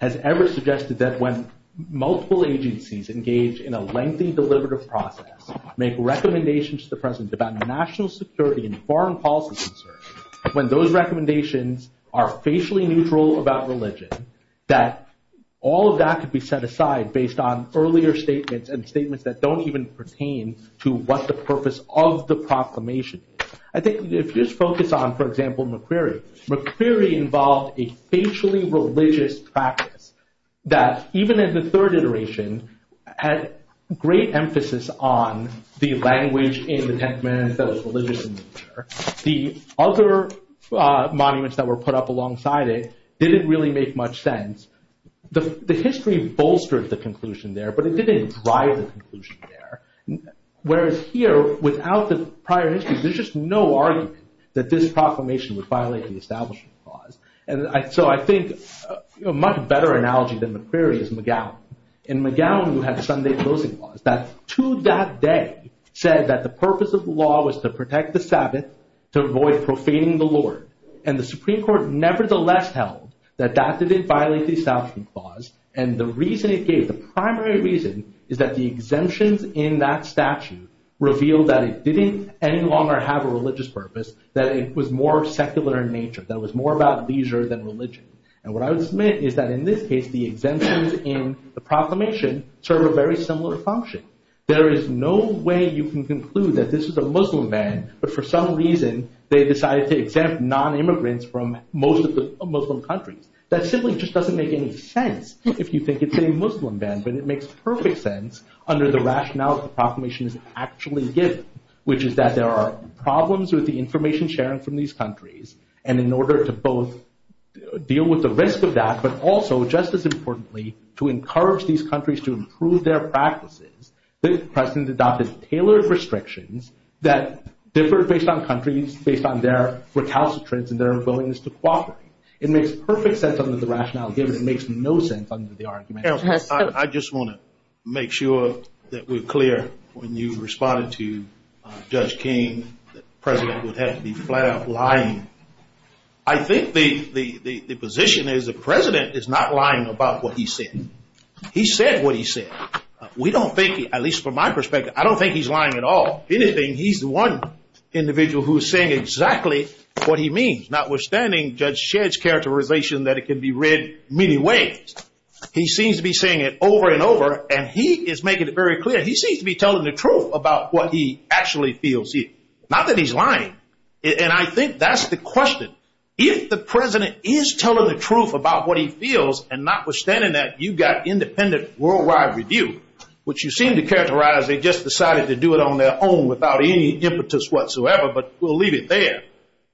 has ever suggested that when multiple agencies engage in a lengthy deliberative process, make recommendations to the president about national security and foreign policy concerns, when those recommendations are facially neutral about religion, that all of that could be set aside based on earlier statements and statements that don't even pertain to what's the purpose of the proclamation. I think if you just focus on, for example, McCrary. McCrary involved a facially religious practice that, even in the third iteration, had great emphasis on the language in the Ten Commandments that was religious in nature. The other monuments that were put up alongside it didn't really make much sense. The history bolsters the conclusion there, but it didn't drive the conclusion there. Whereas here, without the prior history, there's just no argument that this proclamation would violate the establishment clause. And so I think a much better analogy than McCrary is McGowan. In McGowan, you have a Sunday closing clause that, to that day, said that the purpose of the law was to protect the Sabbath, to avoid profaning the Lord. And the Supreme Court nevertheless held that that didn't violate the establishment clause. And the reason it did, the primary reason, is that the exemptions in that statute revealed that it didn't any longer have a religious purpose, that it was more secular in nature, that it was more about leisure than religion. And what I would submit is that, in this case, the exemptions in the proclamation serve a very similar function. There is no way you can conclude that this is a Muslim ban, but for some reason, they decided to exempt non-immigrants from most of the Muslim countries. That simply just doesn't make any sense if you think it's a Muslim ban. And it makes perfect sense under the rationale the proclamation is actually given, which is that there are problems with the information sharing from these countries. And in order to both deal with the risk of that, but also, just as importantly, to encourage these countries to improve their practices, this precedent adopted tailored restrictions that differ based on countries, based on their recalcitrance and their willingness to cooperate. It makes perfect sense under the rationale given. It makes no sense under the argument. I just want to make sure that we're clear when you responded to Judge King that precedent would have to be flat out lying. I think the position is the precedent is not lying about what he said. He said what he said. We don't think, at least from my perspective, I don't think he's lying at all. If anything, he's the one individual who's saying exactly what he means, notwithstanding Judge Shedd's characterization that it can be read many ways. He seems to be saying it over and over, and he is making it very clear. He seems to be telling the truth about what he actually feels here, not that he's lying. And I think that's the question. If the precedent is telling the truth about what he feels, and notwithstanding that you've got independent worldwide review, which you seem to characterize, they just decided to do it on their own without any impetus whatsoever, but we'll leave it there.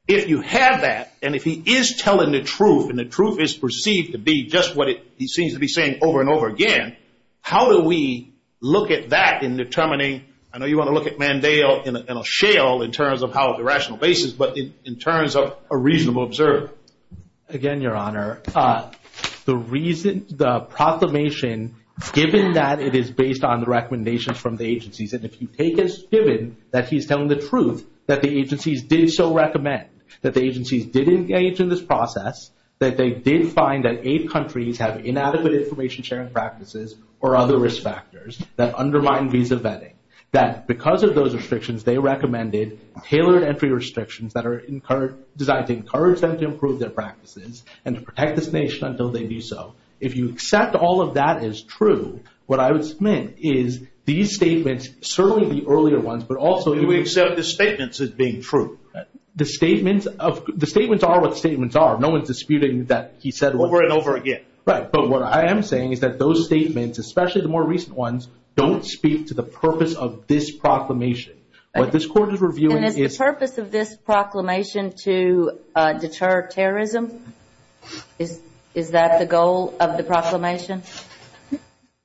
If you have that, and if he is telling the truth, and the truth is perceived to be just what he seems to be saying over and over again, how do we look at that in determining? I know you want to look at Mandel in a shell in terms of how it's a rational basis, but in terms of a reasonable observance. Again, Your Honor, the proclamation, given that it is based on the recommendations from the agencies, and if you take as given that he's telling the truth that the agencies did so recommend, that the agencies did engage in this process, that they did find that eight countries have inadequate information-sharing practices or other risk factors that undermine visa vetting, that because of those restrictions, they recommended tailored entry restrictions that are designed to encourage them to improve their practices and to protect this nation until they do so. If you accept all of that as true, what I would submit is these statements, certainly the earlier ones, but also- You accept the statements as being true. The statements are what statements are. No one's disputing that he said- Over and over again. Right, but what I am saying is that those statements, especially the more recent ones, don't speak to the purpose of this proclamation. What this court is reviewing is- And the purpose of this proclamation to deter terrorism, is that the goal of the proclamation?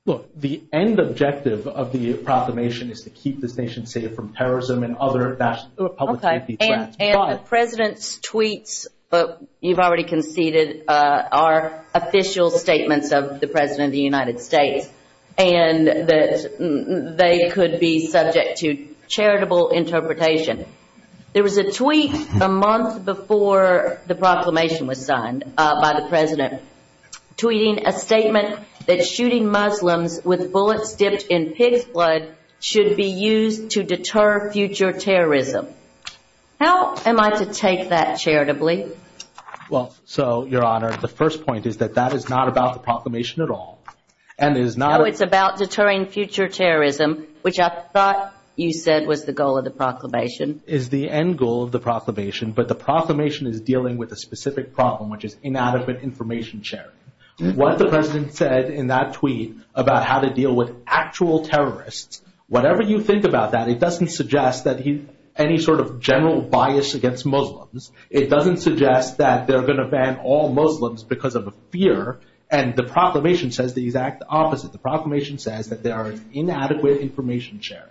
Look, the end objective of the proclamation is to keep this nation safe from terrorism and other national public safety threats. And the President's tweets, you've already conceded, are official statements of the President of the United States, and that they could be subject to charitable interpretation. There was a tweet a month before the proclamation was signed by the President, tweeting a statement that shooting Muslims with bullets dipped in pig blood should be used to deter future terrorism. How am I to take that charitably? Well, so, Your Honor, the first point is that that is not about the proclamation at all, and is not- Oh, it's about deterring future terrorism, which I thought you said was the goal of the proclamation. Is the end goal of the proclamation, but the proclamation is dealing with a specific problem, which is inadequate information sharing. What the President said in that tweet about how to deal with actual terrorists, whatever you think about that, it doesn't suggest any sort of general bias against Muslims. It doesn't suggest that they're going to ban all Muslims because of a fear, and the proclamation says the exact opposite. The proclamation says that there are inadequate information sharing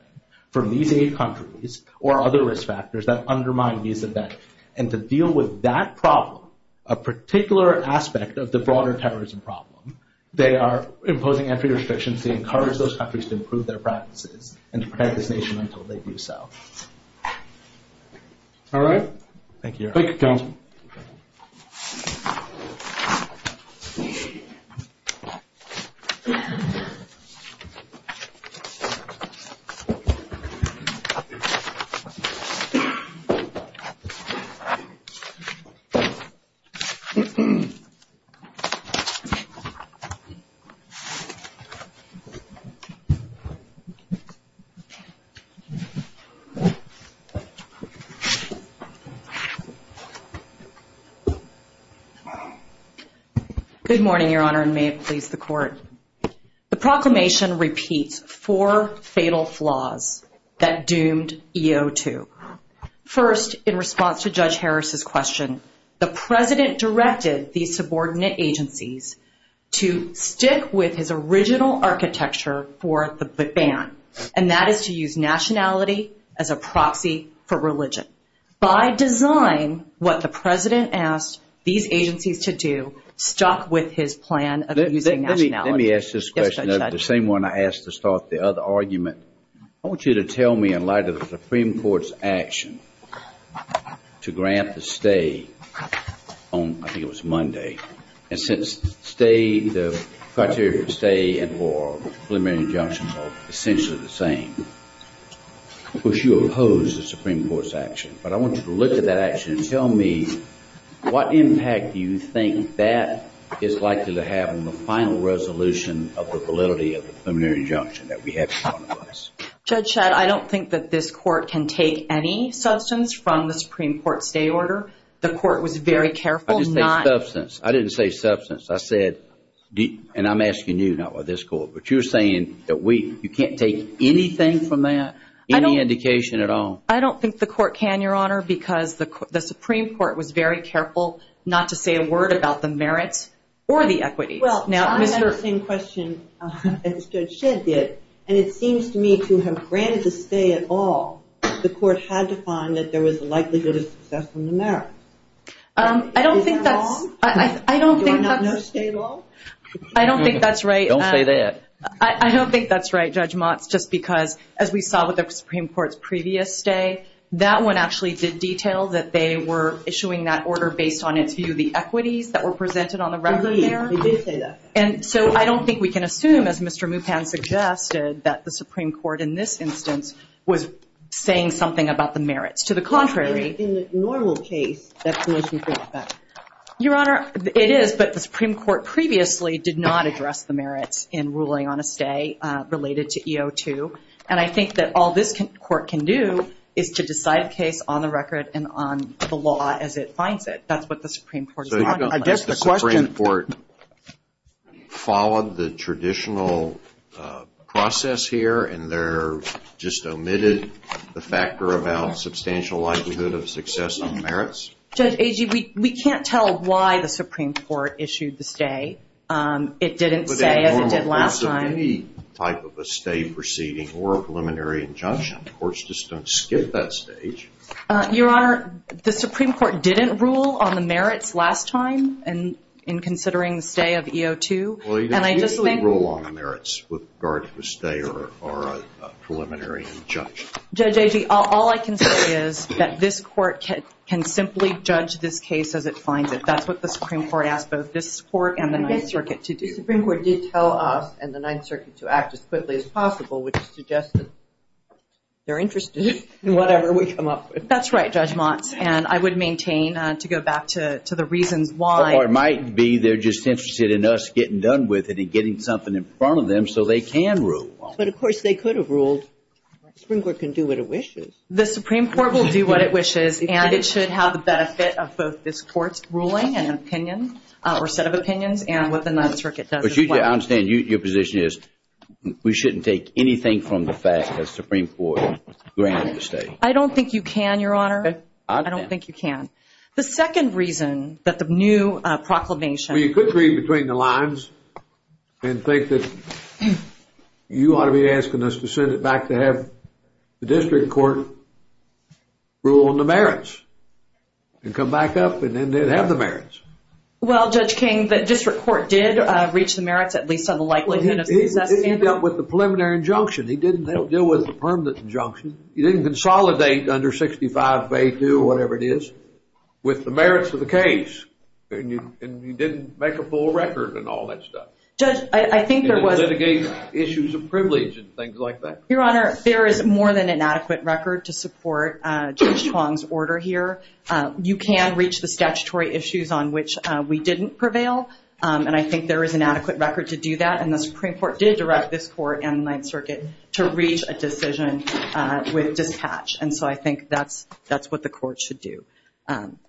from these eight countries, or other risk factors that undermine these events. And to deal with that problem, a particular aspect of the broader terrorism problem, they are imposing entry restrictions to encourage those countries to improve their practices, and to protect this nation until they do so. All right. Thank you, Your Honor. Thank you, counsel. Thank you, Your Honor. There are four fatal flaws that doomed EO2. First, in response to Judge Harris's question, the President directed these subordinate agencies to stick with his original architecture for the ban, and that is to use nationality as a proxy for religion. By design, what the President asked these agencies to do stuck with his plan of using nationality. Let me ask this question, the same one I asked to start the other argument. I want you to tell me, in light of the Supreme Court's action to grant the stay on, I think it was Monday, and since the criteria for stay and for preliminary injunction are essentially the same, which you oppose the Supreme Court's action. But I want you to look at that action and tell me what impact do you think that is likely to have on the final resolution of the validity of the preliminary injunction that we have before us? Judge, I don't think that this court can take any substance from the Supreme Court's stay order. The court was very careful. I didn't say substance. I said, and I'm asking you, not this court, but you're saying that you can't take anything from that, any indication at all? I don't think the court can, Your Honor, because the Supreme Court was very careful not to say a word about the merits or the equities. Well, I have the same question as Judge Shed did, and it seems to me that to have granted the stay at all, the court had to find that there was a likelihood of success in the merits. I don't think that's right. Don't say that. I don't think that's right, Judge Motz, just because, as we saw with the Supreme Court's previous stay, that one actually did detail that they were issuing that order based on its view of the equities that were presented on the record there. They did say that. And so I don't think we can assume, as Mr. Mukon suggested, that the Supreme Court in this instance was saying something about the merits. To the contrary. In the normal case, that's the most important fact. Your Honor, it is, but the Supreme Court previously did not address the merits in ruling on a stay related to EO2, and I think that all this court can do is to decide case on the record and on the law as it finds it. That's what the Supreme Court is doing. The Supreme Court followed the traditional process here, and there just omitted the factor about substantial likelihood of success on merits. Judge Agee, we can't tell why the Supreme Court issued the stay. It didn't say it. It did last time. Any type of a stay proceeding or a preliminary injunction. Courts just don't skip that stage. Your Honor, the Supreme Court didn't rule on the merits last time in considering stay of EO2. Well, it did rule on the merits with regard to stay or a preliminary injunction. Judge Agee, all I can say is that this court can simply judge this case as it finds it. That's what the Supreme Court asked both this court and the Ninth Circuit to do. The Supreme Court did tell us and the Ninth Circuit to act as quickly as possible, which suggests that they're interested in whatever we come up with. That's right, Judge Mott, and I would maintain to go back to the reason why. Or it might be they're just interested in us getting done with it and getting something in front of them so they can rule. But, of course, they could have ruled. The Supreme Court can do what it wishes. The Supreme Court will do what it wishes, and it should have the benefit of both this court's ruling and opinions or set of opinions and what the Ninth Circuit does as well. I understand your position is we shouldn't take anything from the fact that the Supreme Court granted the stay. I don't think you can, Your Honor. I don't think you can. The second reason that the new proclamation – You could read between the lines and think that you ought to be asking us to send it back to have the district court rule on the merits and come back up and then have the merits. Well, Judge King, the district court did reach the merits at least on the likelihood of – He dealt with the preliminary injunction. He didn't deal with the permanent injunction. He didn't consolidate under 65 Bay 2 or whatever it is with the merits of the case. And he didn't make a full record and all that stuff. Judge, I think there was – He didn't litigate issues of privilege and things like that. Your Honor, there is more than an adequate record to support Judge Hong's order here. You can reach the statutory issues on which we didn't prevail. And I think there is an adequate record to do that. And the Supreme Court did direct this court and Ninth Circuit to reach a decision with dispatch. And so I think that's what the court should do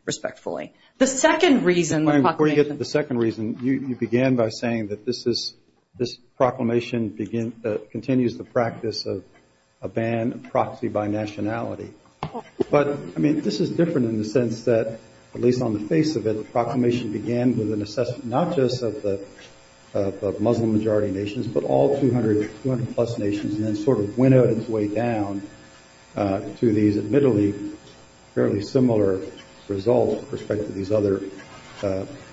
respectfully. The second reason – Before you get to the second reason, you began by saying that this proclamation continues the practice of a ban and proxy by nationality. But, I mean, this is different in the sense that at least on the face of it, the proclamation began with an assessment not just of the Muslim-majority nations, but all 200-plus nations and then sort of went out its way down to these admittedly fairly similar results with respect to these other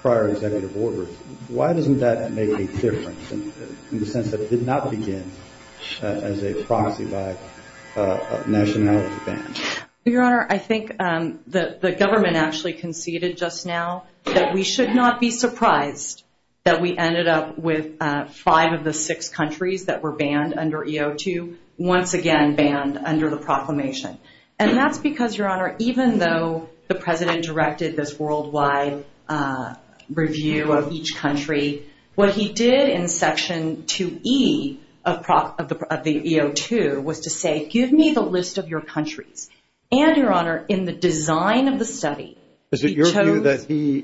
prior executive orders. Why doesn't that make a difference in the sense that it did not begin as a proxy by nationality ban? Your Honor, I think the government actually conceded just now that we should not be surprised that we ended up with five of the six countries that were banned under EO2 once again banned under the proclamation. And that's because, Your Honor, even though the President directed this worldwide review of each country, what he did in Section 2E of the EO2 was to say, Give me the list of your countries. And, Your Honor, in the design of the study – Is it your view that he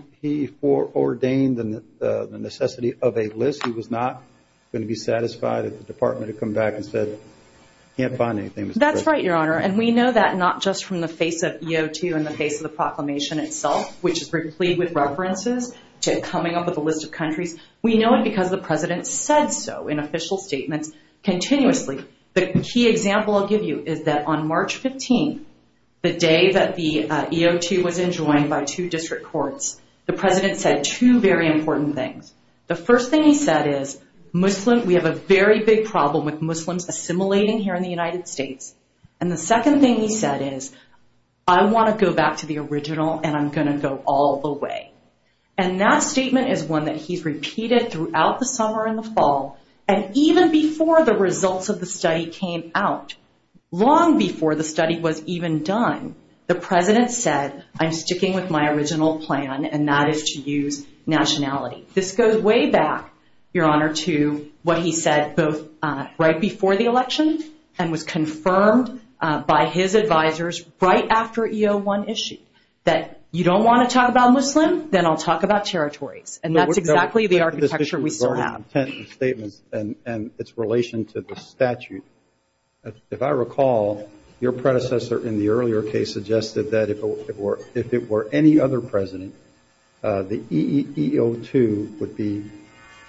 ordained the necessity of a list? He was not going to be satisfied if the Department had come back and said, Can't find anything. That's right, Your Honor. And we know that not just from the face of EO2 and the face of the proclamation itself, which is briefly with references to coming up with a list of countries. We know it because the President said so in official statements continuously. The key example I'll give you is that on March 15th, the day that the EO2 was enjoined by two district courts, the President said two very important things. The first thing he said is, We have a very big problem with Muslims assimilating here in the United States. And the second thing he said is, I want to go back to the original, and I'm going to go all the way. And that statement is one that he's repeated throughout the summer and the fall. And even before the results of the study came out, long before the study was even done, the President said, I'm sticking with my original plan, and that is to use nationality. This goes way back, Your Honor, to what he said right before the election and was confirmed by his advisors right after EO1 issued, that you don't want to talk about Muslims, then I'll talk about territory. And that's exactly the architecture we still have. And its relation to the statute. If I recall, your predecessor in the earlier case suggested that if it were any other President, the EO2 would be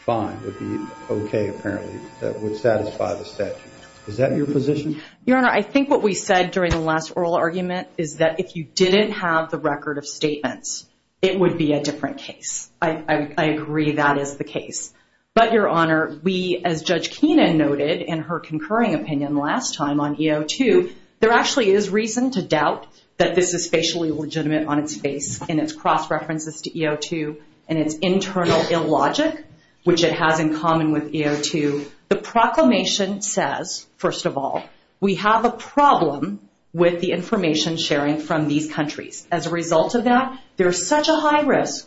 fine, would be okay apparently, would satisfy the statute. Is that your position? Your Honor, I think what we said during the last oral argument is that if you didn't have the record of statements, it would be a different case. I agree that is the case. But, Your Honor, we, as Judge Keenan noted in her concurring opinion last time on EO2, there actually is reason to doubt that this is spatially legitimate on its face in its cross-references to EO2 and its internal illogic, which it has in common with EO2. The proclamation says, first of all, we have a problem with the information sharing from these countries. As a result of that, there's such a high risk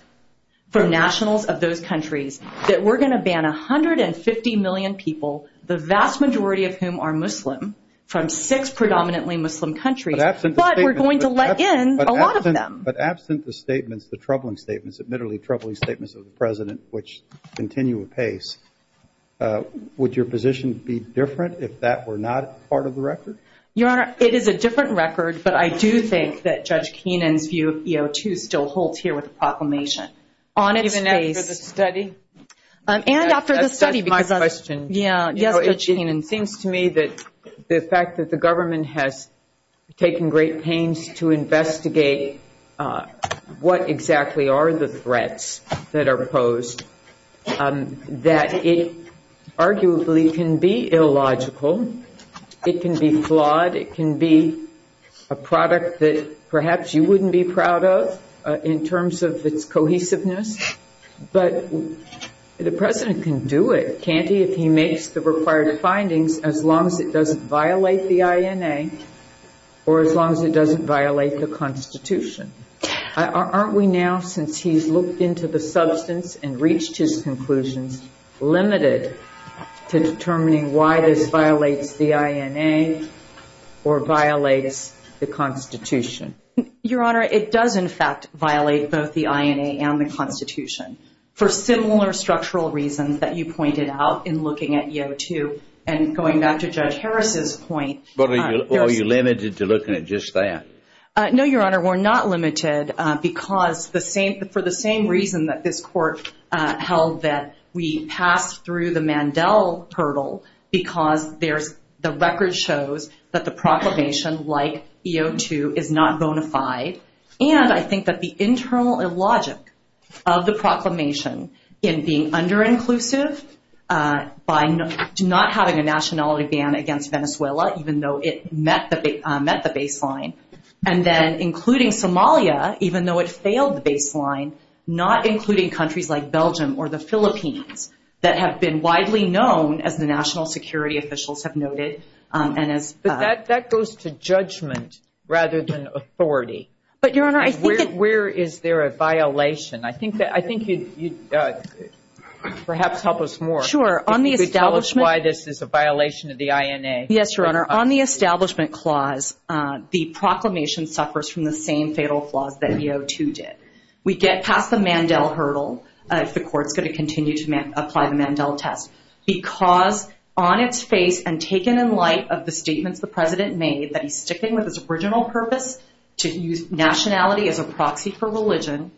for nationals of those countries that we're going to ban 150 million people, the vast majority of whom are Muslim, from six predominantly Muslim countries, but we're going to let in a lot of them. But absent the troubling statements, admittedly troubling statements of the President, which continue apace, would your position be different if that were not part of the record? Your Honor, it is a different record, but I do think that Judge Keenan's view of EO2 still holds here with the proclamation. Even after the study? That's my question. Judge Keenan, it seems to me that the fact that the government has taken great pains to investigate what exactly are the threats that are posed, that it arguably can be illogical, it can be flawed, it can be a product that perhaps you wouldn't be proud of in terms of its cohesiveness, but the President can do it, can't he, if he makes the required findings, as long as it doesn't violate the INA or as long as it doesn't violate the Constitution. Aren't we now, since he's looked into the substance and reached his conclusions, limited to determining why this violates the INA or violates the Constitution? Your Honor, it does in fact violate both the INA and the Constitution for similar structural reasons that you pointed out in looking at EO2 and going back to Judge Harris's point. Are you limited to looking at just that? No, Your Honor, we're not limited because for the same reason that this Court held that we passed through the Mandel hurdle because the record shows that the proclamation, like EO2, is not bona fide, and I think that the internal illogic of the proclamation in being under-inclusive by not having a nationality ban against Venezuela, even though it met the baseline, and then including Somalia, even though it failed the baseline, not including countries like Belgium or the Philippines that have been widely known, as the national security officials have noted. But that goes to judgment rather than authority. But Your Honor, I think it's... Where is there a violation? I think you'd perhaps help us more if you could tell us why this is a violation of the INA. Yes, Your Honor. On the Establishment Clause, the proclamation suffers from the same fatal flaws that EO2 did. We get past the Mandel hurdle if the Court's going to continue to apply the Mandel test because on its face and taken in light of the statements the President made that he's sticking with his original purpose, to use nationality as a proxy for religion,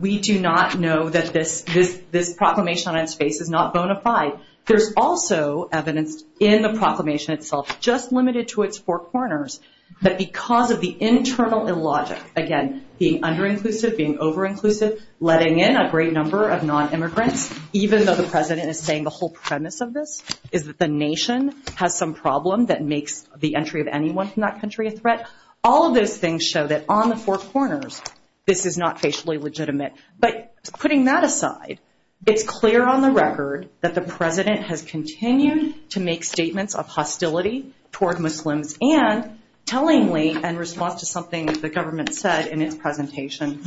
we do not know that this proclamation on its face is not bona fide. There's also evidence in the proclamation itself, just limited to its four corners, that because of the internal illogic, again, being under-inclusive, being over-inclusive, letting in a great number of non-immigrants, even though the President is saying the whole premise of this is that the nation has some problem that makes the entry of anyone from that country a threat, all of those things show that on the four corners, this is not facially legitimate. But putting that aside, it's clear on the record that the President has continued to make statements of hostility toward Muslims and tellingly, in response to something the government said in its presentation,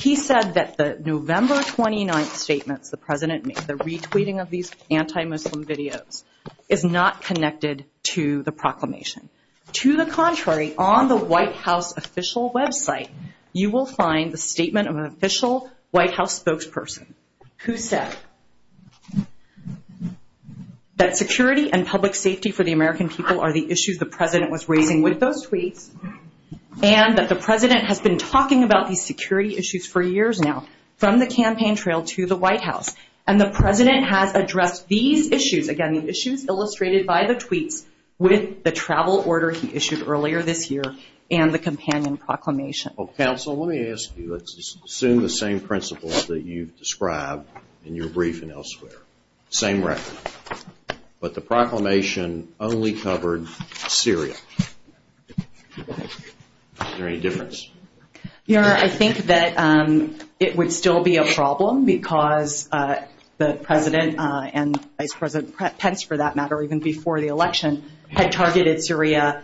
he said that the November 29th statement the President made, the retweeting of these anti-Muslim videos, is not connected to the proclamation. To the contrary, on the White House official website, you will find the statement of an official White House spokesperson, who said that security and public safety for the American people are the issues the President was raising with those tweets, and that the President has been talking about these security issues for years now, from the campaign trail to the White House. And the President has addressed these issues, again, the issues illustrated by the tweets, with the travel order he issued earlier this year and the companion proclamation. Counsel, let me ask you, let's assume the same principles that you've described in your briefing elsewhere, same record. But the proclamation only covered Syria. Is there any difference? Yeah, I think that it would still be a problem because the President and Vice President Pence, for that matter, even before the election, had targeted Syria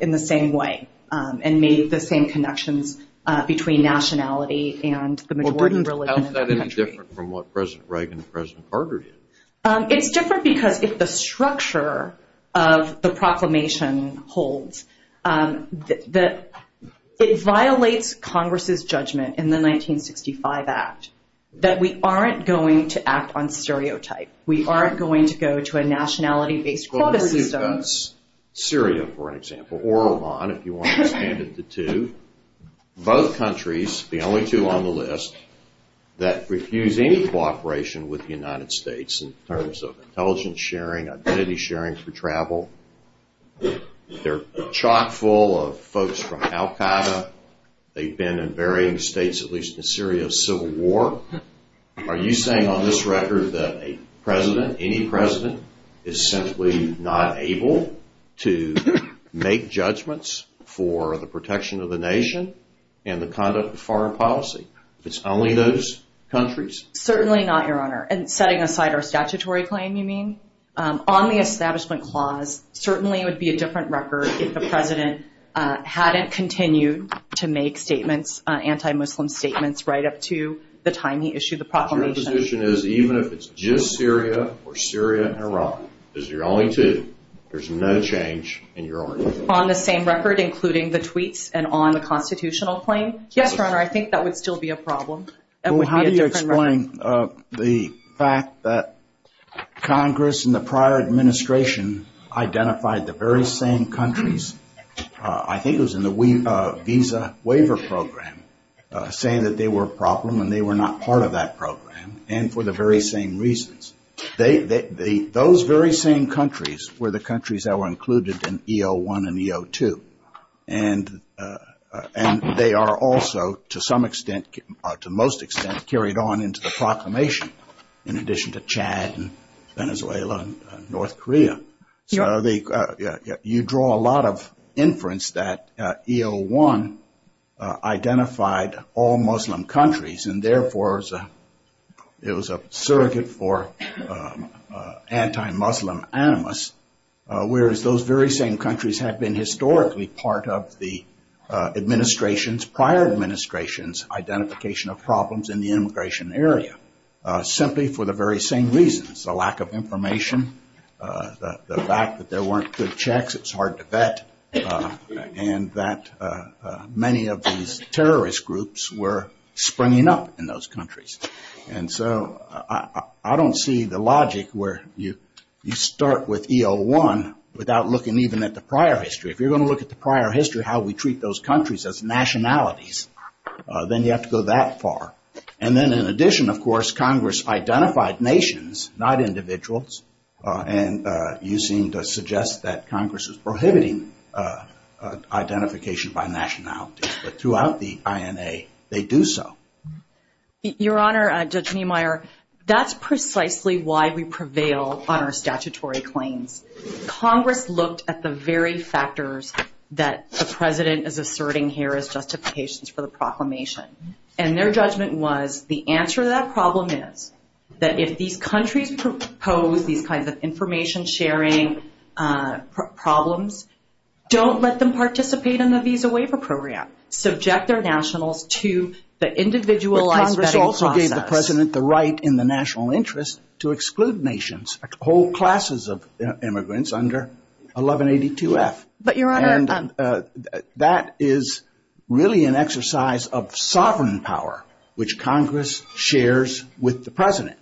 in the same way and made the same connections between nationality and the important religion in the country. It's different from what President Reagan and President Carter did. It's different because it's the structure of the proclamation holds. It violates Congress's judgment in the 1965 act that we aren't going to act on stereotypes. We aren't going to go to a nationality-based quota system. Syria, for example, or Iran, if you want to stand at the two. Both countries, the only two on the list, that refuse any cooperation with the United States in terms of intelligence sharing, identity sharing for travel. They're chock-full of folks from al-Qaeda. They've been in varying states, at least in Syria, of civil war. Are you saying on this record that a president, any president, is simply not able to make judgments for the protection of the nation and the conduct of foreign policy? It's only those countries? Certainly not, Your Honor. And setting aside our statutory claim, you mean? On the establishment clause, certainly it would be a different record if the president hadn't continued to make statements, anti-Muslim statements, right up to the time he issued the proclamation. Your position is even if it's just Syria or Syria and Iran, because you're only two, there's no change in your order. On the same record, including the tweets and on the constitutional claim? Yes, Your Honor, I think that would still be a problem. Well, how do you explain the fact that Congress and the prior administration identified the very same countries, I think it was in the Visa Waiver Program, saying that they were a problem and they were not part of that program, and for the very same reasons. Those very same countries were the countries that were included in EO1 and EO2. And they are also, to some extent, to most extent, carried on into the proclamation in addition to Chad and Venezuela and North Korea. So you draw a lot of inference that EO1 identified all Muslim countries and, therefore, it was a surrogate for anti-Muslim animus, whereas those very same countries have been historically part of the administration's, prior administration's, identification of problems in the immigration area, simply for the very same reasons, the lack of information, the fact that there weren't good checks, it's hard to vet, and that many of these terrorist groups were springing up in those countries. And so I don't see the logic where you start with EO1 without looking even at the prior history. If you're going to look at the prior history, how we treat those countries as nationalities, then you have to go that far. And then, in addition, of course, Congress identified nations, not individuals, and you seem to suggest that Congress is prohibiting identification by nationality. But throughout the INA, they do so. Your Honor, Judge Niemeyer, that's precisely why we prevail on our statutory claims. Congress looked at the very factors that the President is asserting here as justifications for the proclamation. And their judgment was the answer to that problem is that if these countries propose these kinds of information-sharing problems, don't let them participate in the Visa Waiver Program. Subject their nationals to the individualized vetting process. But Congress also gave the President the right in the national interest to exclude nations, hold classes of immigrants under 1182F. But, Your Honor, that is really an exercise of sovereign power, which Congress shares with the President.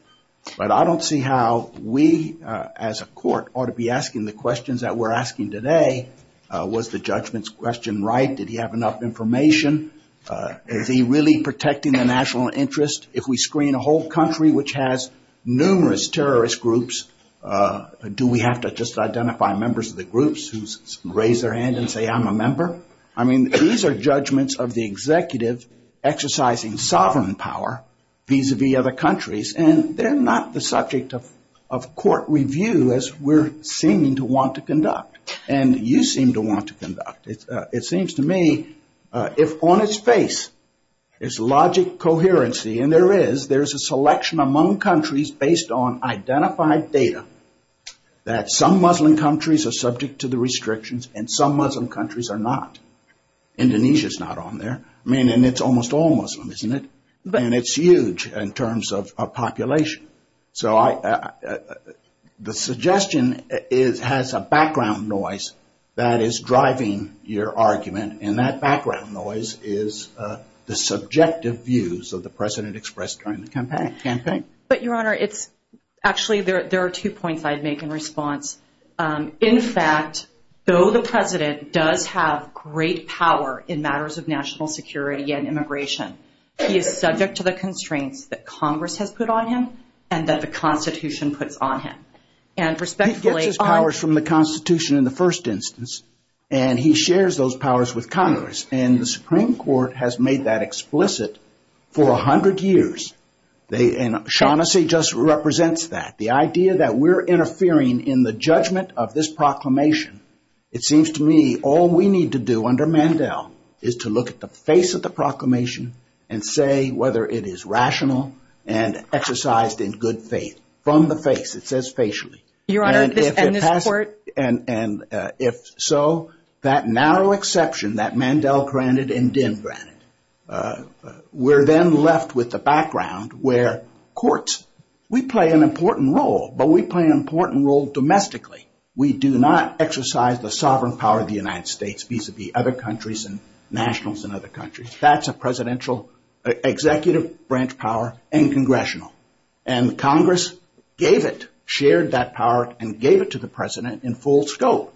But I don't see how we, as a court, ought to be asking the questions that we're asking today. Was the judgment's question right? Did he have enough information? Is he really protecting the national interest? If we screen a whole country which has numerous terrorist groups, do we have to just identify members of the groups who raise their hand and say, I'm a member? I mean, these are judgments of the executives exercising sovereign power vis-a-vis other countries. And they're not the subject of court review as we're seeming to want to conduct. And you seem to want to conduct. It seems to me if on its face is logic coherency, and there is, there's a selection among countries based on identified data that some Muslim countries are subject to the restrictions and some Muslim countries are not. Indonesia's not on there. I mean, and it's almost all Muslims, isn't it? And it's huge in terms of population. So the suggestion has a background noise that is driving your argument. And that background noise is the subjective views of the President expressed during the campaign. But, Your Honor, it's actually there are two points I'd make in response. In fact, though the President does have great power in matters of national security and immigration, he is subject to the constraints that Congress has put on him and that the Constitution puts on him. He gets his powers from the Constitution in the first instance. And he shares those powers with Congress. And the Supreme Court has made that explicit for 100 years. And Shaughnessy just represents that. The idea that we're interfering in the judgment of this proclamation, it seems to me all we need to do under Mandel is to look at the face of the proclamation and say whether it is rational and exercised in good faith. From the face, it says facially. And if so, that narrow exception that Mandel granted and Dinn granted, we're then left with a background where courts, we play an important role, but we play an important role domestically. We do not exercise the sovereign power of the United States vis-à-vis other countries and nationals in other countries. That's a presidential executive branch power and congressional. And Congress gave it, shared that power, and gave it to the president in full scope.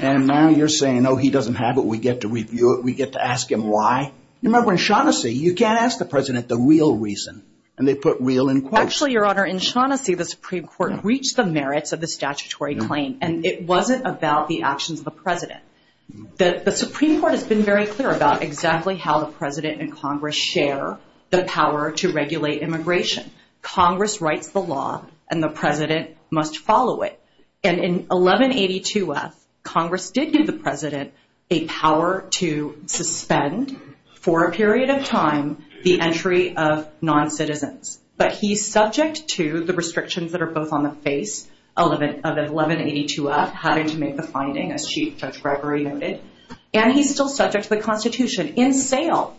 And now you're saying, no, he doesn't have it. We get to review it. We get to ask him why. Remember in Shaughnessy, you can't ask the president the real reason. And they put real in quotes. Actually, Your Honor, in Shaughnessy, the Supreme Court reached the merits of the statutory claim. And it wasn't about the actions of the president. The Supreme Court has been very clear about exactly how the president and Congress share the power to regulate immigration. Congress writes the law, and the president must follow it. And in 1182-F, Congress did give the president a power to suspend for a period of time the entry of noncitizens. But he's subject to the restrictions that are both on the face of 1182-F, having to make the finding, as Chief Judge Gregory noted. And he's still subject to the Constitution. In Thale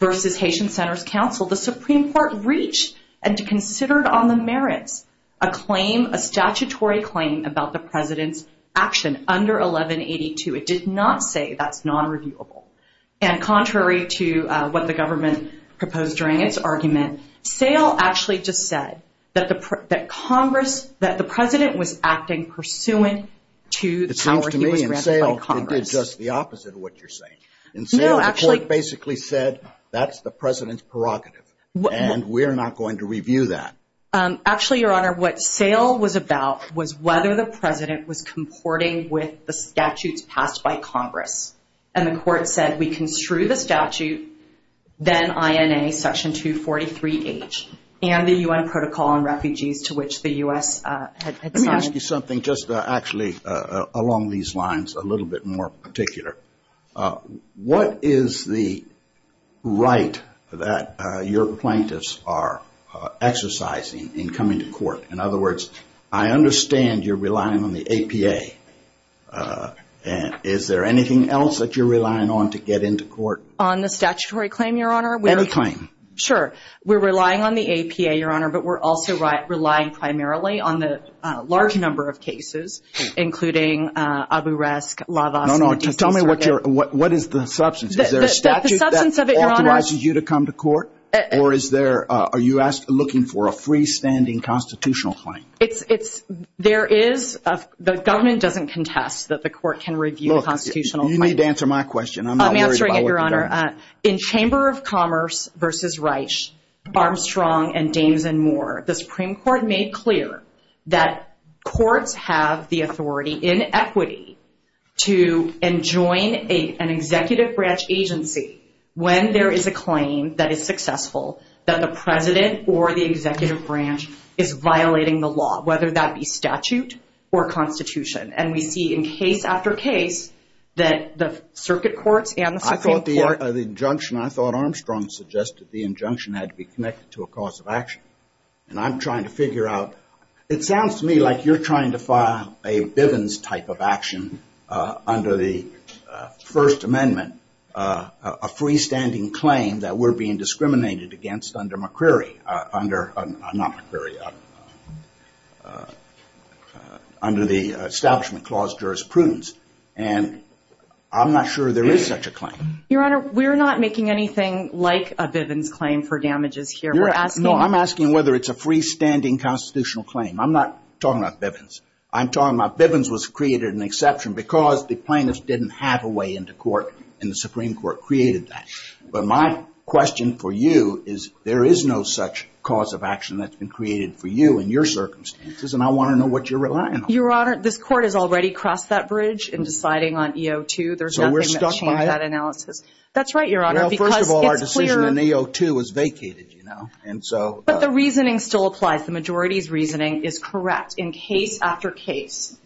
v. Haitian Centers Council, the Supreme Court reached and considered on the merits a claim, a statutory claim, about the president's action under 1182. It did not say that's nonreviewable. And contrary to what the government proposed during its argument, Thale actually just said that the president was acting pursuant to the powers he was granted by Congress. It sounds to me, in Thale, it did just the opposite of what you're saying. In Thale, the court basically said, that's the president's prerogative. And we're not going to review that. Actually, Your Honor, what Thale was about was whether the president was comporting with the statutes passed by Congress. And the court said, we construe the statute, then INA Section 243H, and the U.N. Protocol on Refugees to which the U.S. has signed. Let me ask you something, just actually along these lines, a little bit more particular. What is the right that your plaintiffs are exercising in coming to court? In other words, I understand you're relying on the APA. Is there anything else that you're relying on to get into court? On the statutory claim, Your Honor? Every claim. Sure. We're relying on the APA, Your Honor, but we're also relying primarily on the large number of cases, including Abu Rask, Lava. No, no. Tell me what is the substance. Is there a statute that authorizes you to come to court? Or are you looking for a freestanding constitutional claim? There is. The government doesn't contest that the court can review constitutional claims. You need to answer my question. I'm not worried about it. I'm answering it, Your Honor. In Chamber of Commerce v. Reich, Armstrong, and Danes and more, the Supreme Court made clear that courts have the authority in equity to enjoin an executive branch agency when there is a claim that is successful that the president or the executive branch is violating the law, whether that be statute or constitution. And we see in case after case that the circuit court and the Supreme Court I thought Armstrong suggested the injunction had to be connected to a cause of action. And I'm trying to figure out. It sounds to me like you're trying to file a Bivens type of action under the First Amendment, a freestanding claim that we're being discriminated against under McCreary. Under, not McCreary, under the Establishment Clause Jurisprudence. And I'm not sure there is such a claim. Your Honor, we're not making anything like a Bivens claim for damages here. No, I'm asking whether it's a freestanding constitutional claim. I'm not talking about Bivens. I'm talking about Bivens was created an exception because the plaintiffs didn't have a way in the court and the Supreme Court created that. But my question for you is there is no such cause of action that's been created for you in your circumstances, and I want to know what you're relying on. Your Honor, this court has already crossed that bridge in deciding on EO2. So we're stuck by it? That's right, Your Honor. Well, first of all, our decision on EO2 was vacated, you know. But the reasoning still applies. The majority's reasoning is correct. In case after case,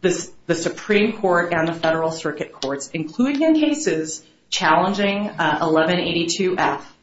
the Supreme Court and the Federal Circuit Courts, including in cases challenging 1182-F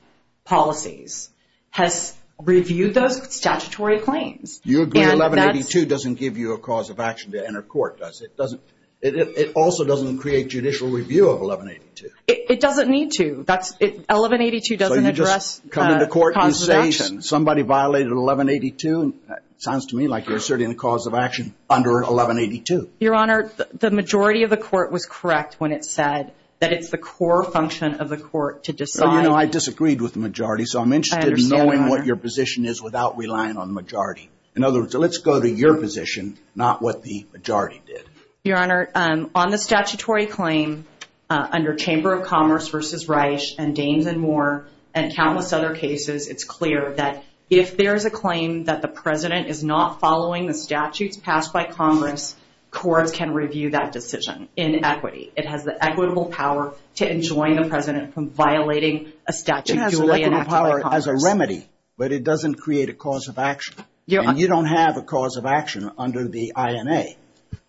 policies, has reviewed those statutory claims. You agree 1182 doesn't give you a cause of action to enter court, does it? It also doesn't create judicial review of 1182. It doesn't need to. 1182 doesn't address causes of action. So you just come into court and say somebody violated 1182? Sounds to me like you're asserting a cause of action under 1182. Your Honor, the majority of the court was correct when it said that it's the core function of the court to decide. Well, you know, I disagreed with the majority, so I'm interested in knowing what your position is without relying on the majority. In other words, let's go to your position, not what the majority did. Your Honor, on the statutory claim under Chamber of Commerce v. Reich and Danes and Moore and countless other cases, it's clear that if there is a claim that the president is not following the statutes passed by Congress, courts can review that decision in equity. It has the equitable power to enjoin the president from violating a statute. It has a remedy, but it doesn't create a cause of action. And you don't have a cause of action under the INA.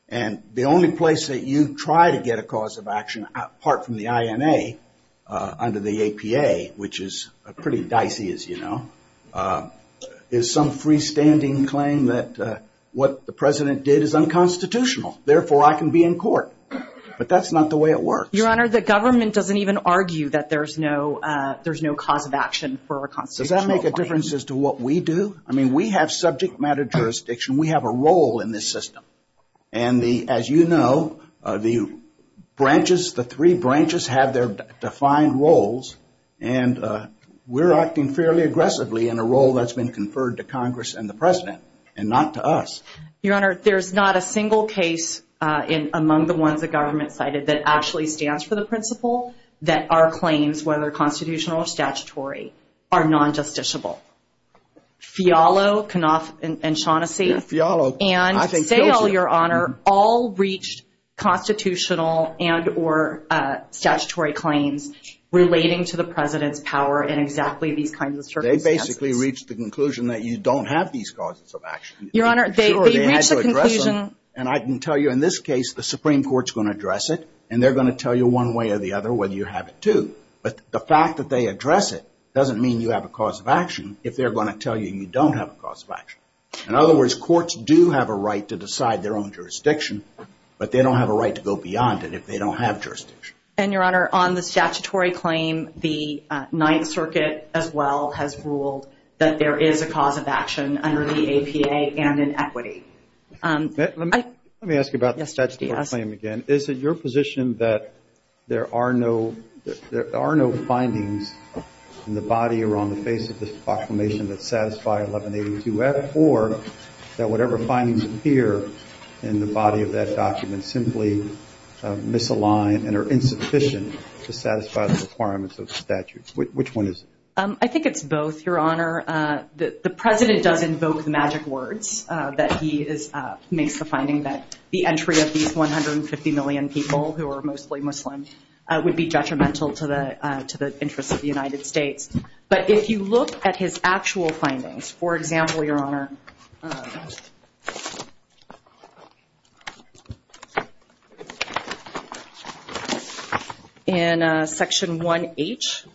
And the only place that you try to get a cause of action, apart from the INA, under the APA, which is pretty dicey, as you know, is some freestanding claim that what the president did is unconstitutional, therefore I can be in court. But that's not the way it works. Your Honor, the government doesn't even argue that there's no cause of action for a constitutional claim. Does that make a difference as to what we do? I mean, we have subject matter jurisdiction. We have a role in this system. And as you know, the branches, the three branches have their defined roles, and we're acting fairly aggressively in a role that's been conferred to Congress and the president and not to us. Your Honor, there's not a single case among the ones the government cited that actually stands for the principle that our claims, whether constitutional or statutory, are non-justiciable. Fialo, Knopf, and Shaughnessy. Fialo. And Fialo, Your Honor, all reached constitutional and or statutory claims relating to the president's power in exactly these kinds of circumstances. They basically reached the conclusion that you don't have these causes of action. Your Honor, they reached the conclusion. And I can tell you in this case, the Supreme Court's going to address it, and they're going to tell you one way or the other whether you have it, too. But the fact that they address it doesn't mean you have a cause of action if they're going to tell you you don't have a cause of action. In other words, courts do have a right to decide their own jurisdiction, but they don't have a right to go beyond it if they don't have jurisdiction. And, Your Honor, on the statutory claim, the Ninth Circuit as well has ruled that there is a cause of action under the APA and in equity. Let me ask you about the statutory claim again. Is it your position that there are no findings in the body or on the basis of this proclamation that satisfy 1182F or that whatever findings appear in the body of that document simply misalign and are insufficient to satisfy the requirements of the statute? Which one is it? I think it's both, Your Honor. The President does invoke magic words that he makes the finding that the entry of these 150 million people who are mostly Muslims would be detrimental to the interest of the United States. But if you look at his actual findings, for example, Your Honor, in Section 1H,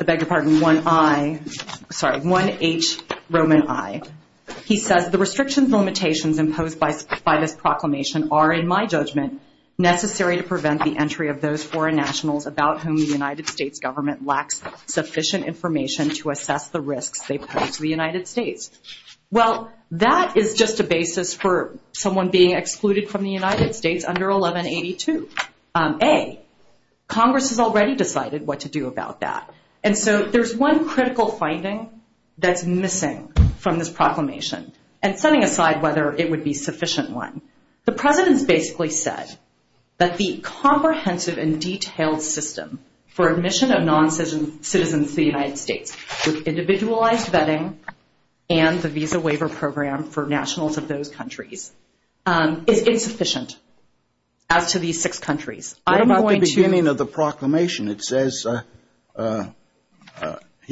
I beg your pardon, 1I, sorry, 1H Roman I, he says the restrictions and limitations imposed by this proclamation are, in my judgment, necessary to prevent the entry of those foreign nationals about whom the United States government lacks sufficient information to assess the risks they pose to the United States. Well, that is just a basis for someone being excluded from the United States under 1182A. Congress has already decided what to do about that. And so there's one critical finding that's missing from this proclamation and setting aside whether it would be a sufficient one. The President basically said that the comprehensive and detailed system for admission of noncitizens to the United States with individualized vetting and the Visa Waiver Program for nationals of those countries is sufficient out to these six countries. I'm going to beginning of the proclamation. It says, I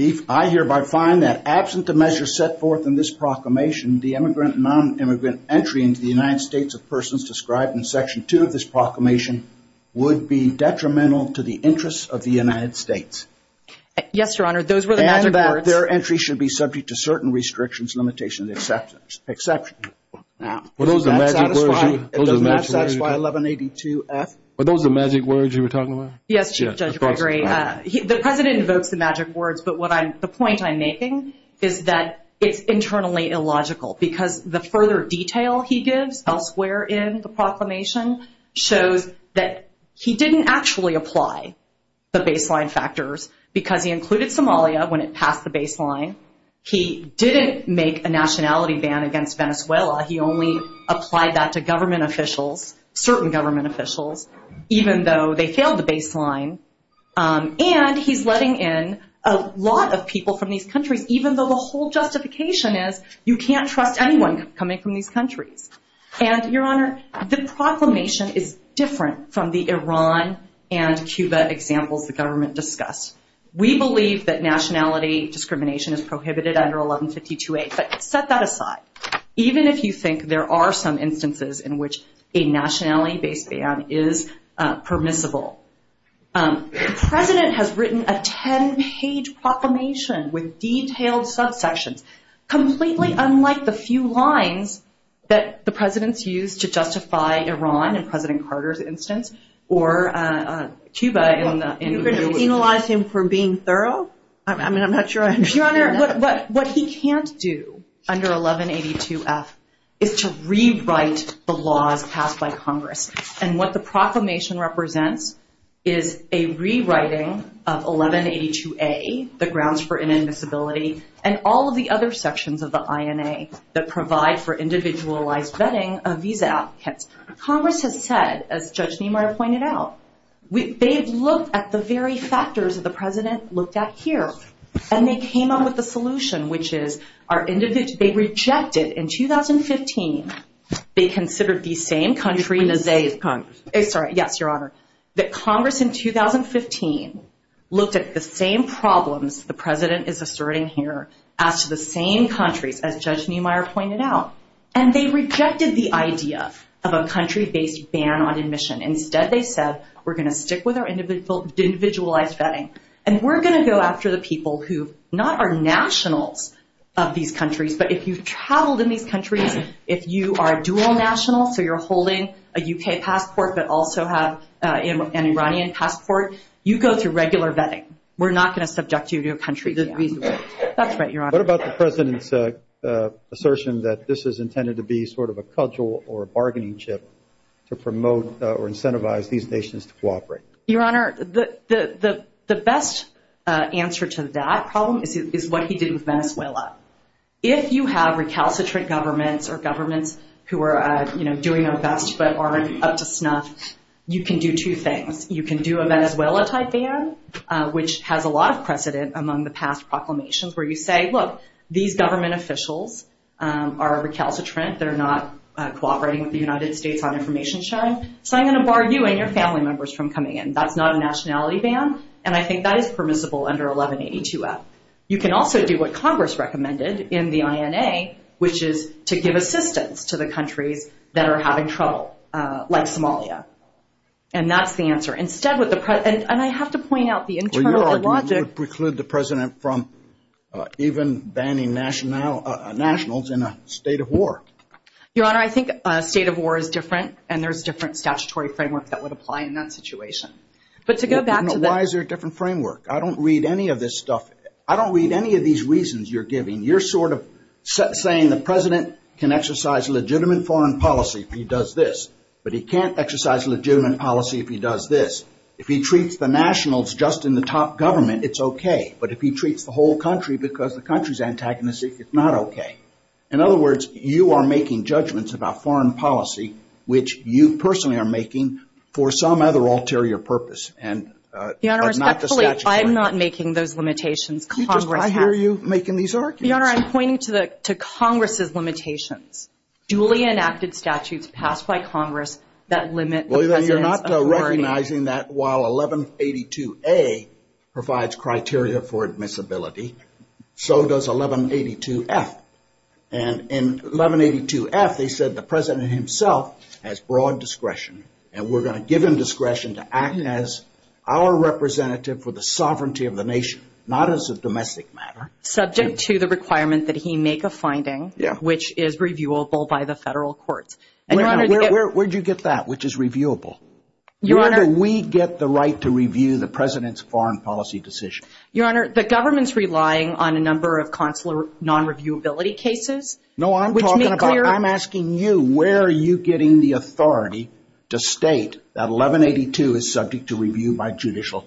hereby find that absent the measure set forth in this proclamation, the immigrant and nonimmigrant entry into the United States of persons described in Section 2 of this proclamation would be detrimental to the interests of the United States. Yes, Your Honor, those were the magic words. And that their entry should be subject to certain restrictions, limitations, and exceptions. Are those the magic words you were talking about? Yes, Judge Gregory. The President invoked the magic words, but the point I'm making is that it's internally illogical because the further detail he gives elsewhere in the proclamation shows that he didn't actually apply the baseline factors because he included Somalia when it passed the baseline. He didn't make a nationality ban against Venezuela. He only applied that to government officials, certain government officials, even though they failed the baseline. And he's letting in a lot of people from these countries, even though the whole justification is you can't trust anyone coming from these countries. And, Your Honor, the proclamation is different from the Iran and Cuba examples the government discussed. We believe that nationality discrimination is prohibited under 1152A, but set that aside. Even if you think there are some instances in which a nationality-based ban is permissible. The President has written a 10-page proclamation with detailed subsections, completely unlike the few lines that the President used to justify Iran in President Carter's instance, or Cuba in the individual case. He penalized him for being thorough? I mean, I'm not sure I understand that. Your Honor, what he can't do under 1182F is to rewrite the laws passed by Congress. And what the proclamation represents is a rewriting of 1182A, the grounds for inadmissibility, and all of the other sections of the INA that provide for individualized vetting of visa applicants. Congress has said, as Judge Niemeyer pointed out, they have looked at the very factors that the President looked at here. And they came up with a solution, which is they rejected in 2015, they considered the same country in the day of Congress. Yes, Your Honor. That Congress in 2015 looked at the same problems the President is asserting here as to the same country, as Judge Niemeyer pointed out, and they rejected the idea of a country-based ban on admission. Instead, they said, we're going to stick with our individualized vetting, and we're going to go after the people who not are nationals of these countries, but if you've traveled in these countries, if you are dual national, so you're holding a U.K. passport, but also have an Iranian passport, you go through regular vetting. We're not going to subject you to a country that we would. That's right, Your Honor. What about the President's assertion that this is intended to be sort of a cudgel or a bargaining chip to promote or incentivize these nations to cooperate? Your Honor, the best answer to that problem is what he did with Venezuela. If you have recalcitrant governments or governments who are doing a bunch but aren't up to snuff, you can do two things. You can do a Venezuela-type ban, which has a lot of precedent among the past proclamations, where you say, look, these government officials are recalcitrant. They're not cooperating with the United States on information sharing, so I'm going to bar you and your family members from coming in. That's not a nationality ban, and I think that is permissible under 1182-F. You can also do what Congress recommended in the INA, which is to give assistance to the countries that are having trouble, like Somalia. And that's the answer. And I have to point out the internal logic. Well, Your Honor, you preclude the President from even banning nationals in a state of war. Your Honor, I think a state of war is different, and there's different statutory frameworks that would apply in that situation. Why is there a different framework? I don't read any of this stuff. I don't read any of these reasons you're giving. You're sort of saying the President can exercise legitimate foreign policy if he does this, but he can't exercise legitimate policy if he does this. If he treats the nationals just in the top government, it's okay. But if he treats the whole country because the country's antagonistic, it's not okay. In other words, you are making judgments about foreign policy, which you personally are making for some other ulterior purpose. Your Honor, respectfully, I'm not making those limitations. Are you making these arguments? Your Honor, I'm pointing to Congress's limitations. Duly enacted statutes passed by Congress that limit the President's authority. Well, then you're not recognizing that while 1182A provides criteria for admissibility, so does 1182F. And in 1182F, they said the President himself has broad discretion, and we're going to give him discretion to act as our representative for the sovereignty of the nation, not as a domestic matter. Subject to the requirement that he make a finding, which is reviewable by the federal courts. Where did you get that, which is reviewable? Where do we get the right to review the President's foreign policy decision? Your Honor, the government's relying on a number of consular non-reviewability cases. No, I'm talking about, I'm asking you, where are you getting the authority to state that 1182 is subject to review by judicial,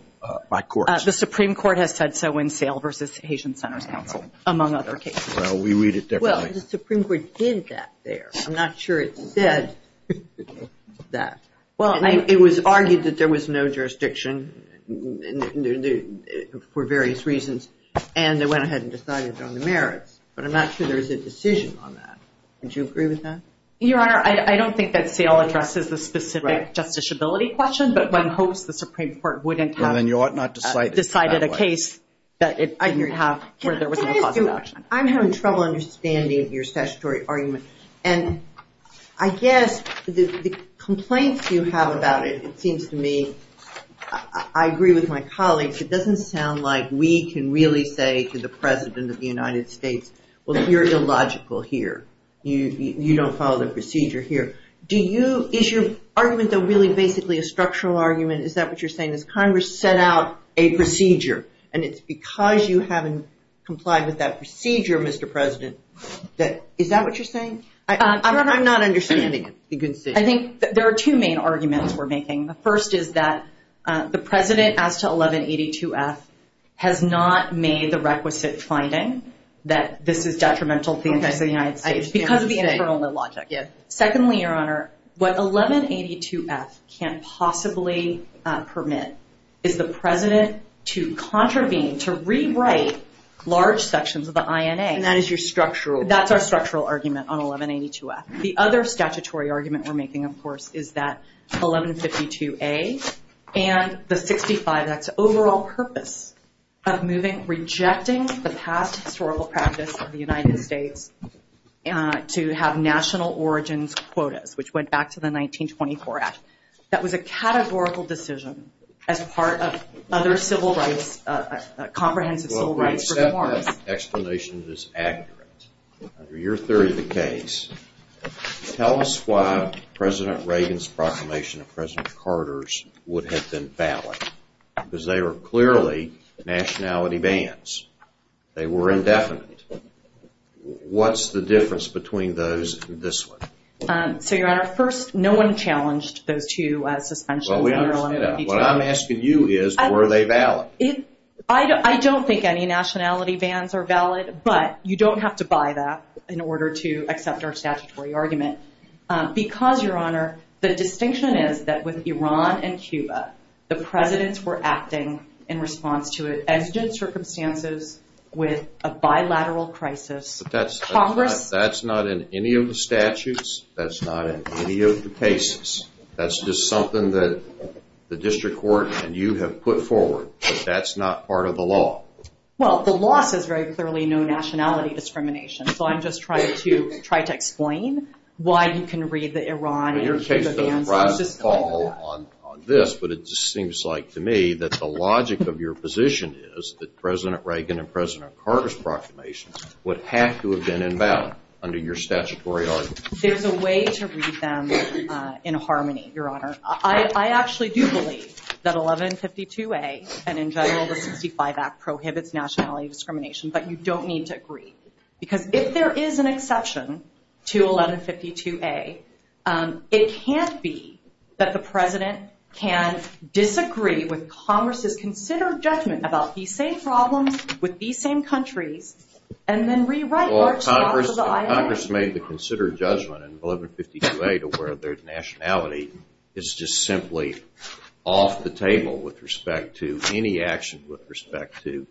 by courts? The Supreme Court has said so in Sale v. Haitian Centers Council, among other cases. Well, we read it differently. Well, the Supreme Court did that there. I'm not sure it said that. Well, it was argued that there was no jurisdiction for various reasons, and they went ahead and decided it was on the merits. But I'm not sure there was a decision on that. Would you agree with that? Your Honor, I don't think that Sale addresses a specific justiciability question, but one hopes the Supreme Court wouldn't have decided a case that it argued have, where there was no possibility. I'm having trouble understanding your statutory argument. And I guess the complaints you have about it, it seems to me, I agree with my colleague, which it doesn't sound like we can really say to the President of the United States, well, you're illogical here. You don't follow the procedure here. Do you, is your argument really basically a structural argument? Is that what you're saying, that Congress set out a procedure, and it's because you haven't complied with that procedure, Mr. President, that, is that what you're saying? Your Honor, I'm not understanding. I think there are two main arguments we're making. The first is that the President, as to 1182-S, has not made the requisite finding that this is detrimental to the United States. Because of the internal logic, yes. Secondly, Your Honor, what 1182-S can't possibly permit is the President to contravene, to rewrite, large sections of the INA. And that is your structural argument. That's our structural argument on 1182-S. The other statutory argument we're making, of course, is that 1152-A and the 65 Act's overall purpose of moving, rejecting the past historical practice of the United States to have national origins quotas, which went back to the 1924 Act. That was a categorical decision as part of other civil rights, comprehensive civil rights reform. Your Honor, your explanation is accurate. Under your theory of the case, tell us why President Reagan's proclamation of President Carter's would have been valid. Because they were clearly nationality bans. They were indefinite. What's the difference between those and this one? So, Your Honor, first, no one challenged those two. Well, we don't know. What I'm asking you is, were they valid? I don't think any nationality bans are valid, but you don't have to buy that in order to accept our statutory argument. Because, Your Honor, the distinction is that with Iran and Cuba, the Presidents were acting in response to urgent circumstances with a bilateral crisis. But that's not in any of the statutes. That's not in any of the cases. That's just something that the district court and you have put forward. But that's not part of the law. Well, the law says very clearly no nationality discrimination. So I'm just trying to explain why you can read the Iran and Cuba bans. Your case doesn't rise and fall on this, but it just seems like to me that the logic of your position is that President Reagan and President Carter's proclamations would have to have been invalid under your statutory argument. There's a way to read them in harmony, Your Honor. I actually do believe that 1152A and in general the 65 Act prohibits nationality discrimination. But you don't need to agree. Because if there is an exception to 1152A, it can't be that the President can disagree with Congress's considered judgment about the same problems with the same countries and then rewrite that. If Congress made the considered judgment in 1152A to where their nationality is just simply off the table with respect to any action with respect to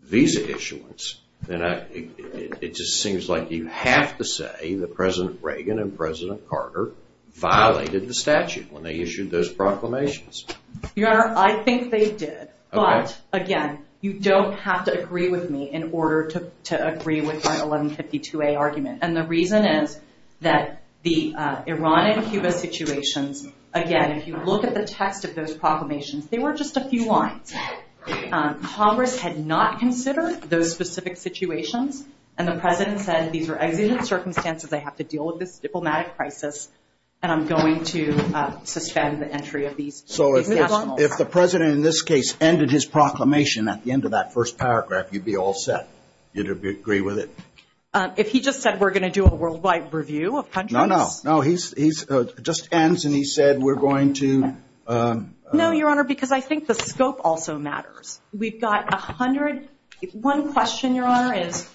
visa issuance, then it just seems like you have to say that President Reagan and President Carter violated the statute when they issued those proclamations. Your Honor, I think they did. But, again, you don't have to agree with me in order to agree with my 1152A argument. And the reason is that the Iran and Cuba situation, again, if you look at the text of those proclamations, they were just a few lines. Congress had not considered those specific situations, and the President said these are evident circumstances. I have to deal with this diplomatic crisis, and I'm going to suspend the entry of these. So if the President, in this case, ended his proclamation at the end of that first paragraph, you'd be all set. You'd agree with it? If he just said we're going to do a worldwide review of countries? No, no. No, he just ends and he said we're going to... No, Your Honor, because I think the scope also matters. We've got a hundred...one question, Your Honor, is,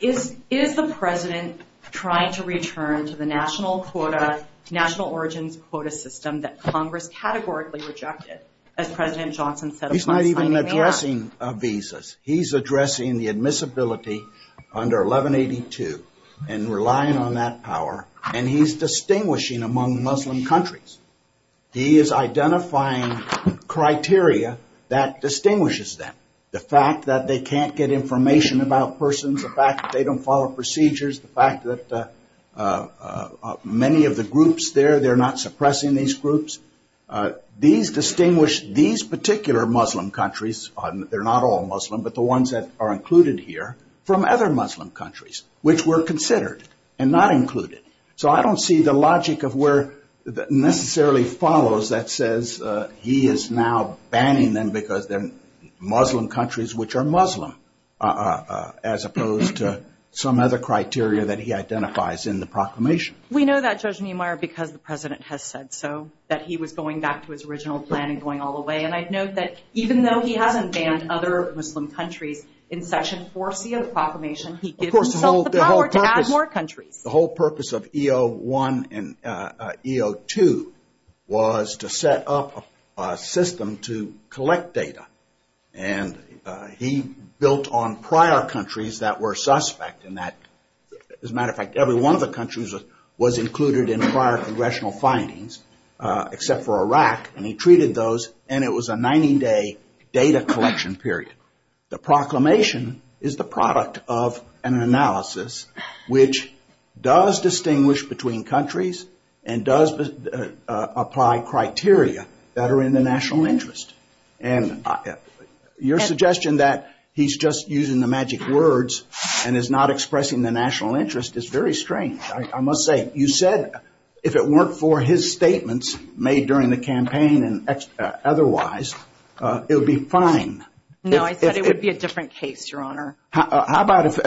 is the President trying to return to the national quota, national origins quota system that Congress categorically rejected, as President Johnson said... He's not even addressing visas. He's addressing the admissibility under 1182 and relying on that power, and he's distinguishing among Muslim countries. He is identifying criteria that distinguishes them. The fact that they can't get information about persons, the fact that they don't follow procedures, the fact that many of the groups there, they're not suppressing these groups. These distinguish these particular Muslim countries, they're not all Muslim, but the ones that are included here, from other Muslim countries, which were considered and not included. So, I don't see the logic of where necessarily follows that says he is now banning them because they're Muslim countries, which are Muslim, as opposed to some other criteria that he identifies in the proclamation. We know that, Judge Meemeyer, because the President has said so, that he was going back to his original plan and going all the way. And I'd note that even though he hasn't banned other Muslim countries, in Section 4C of the proclamation, he didn't... Of course, the whole purpose... The purpose of EO1 and EO2 was to set up a system to collect data, and he built on prior countries that were suspect in that. As a matter of fact, every one of the countries was included in prior congressional findings, except for Iraq, and he treated those, and it was a 90-day data collection period. The proclamation is the product of an analysis which does distinguish between countries and does apply criteria that are in the national interest. And your suggestion that he's just using the magic words and is not expressing the national interest is very strange, I must say. You said if it weren't for his statements made during the campaign and otherwise, it would be fine. No, I said it would be a different case, Your Honor. How about if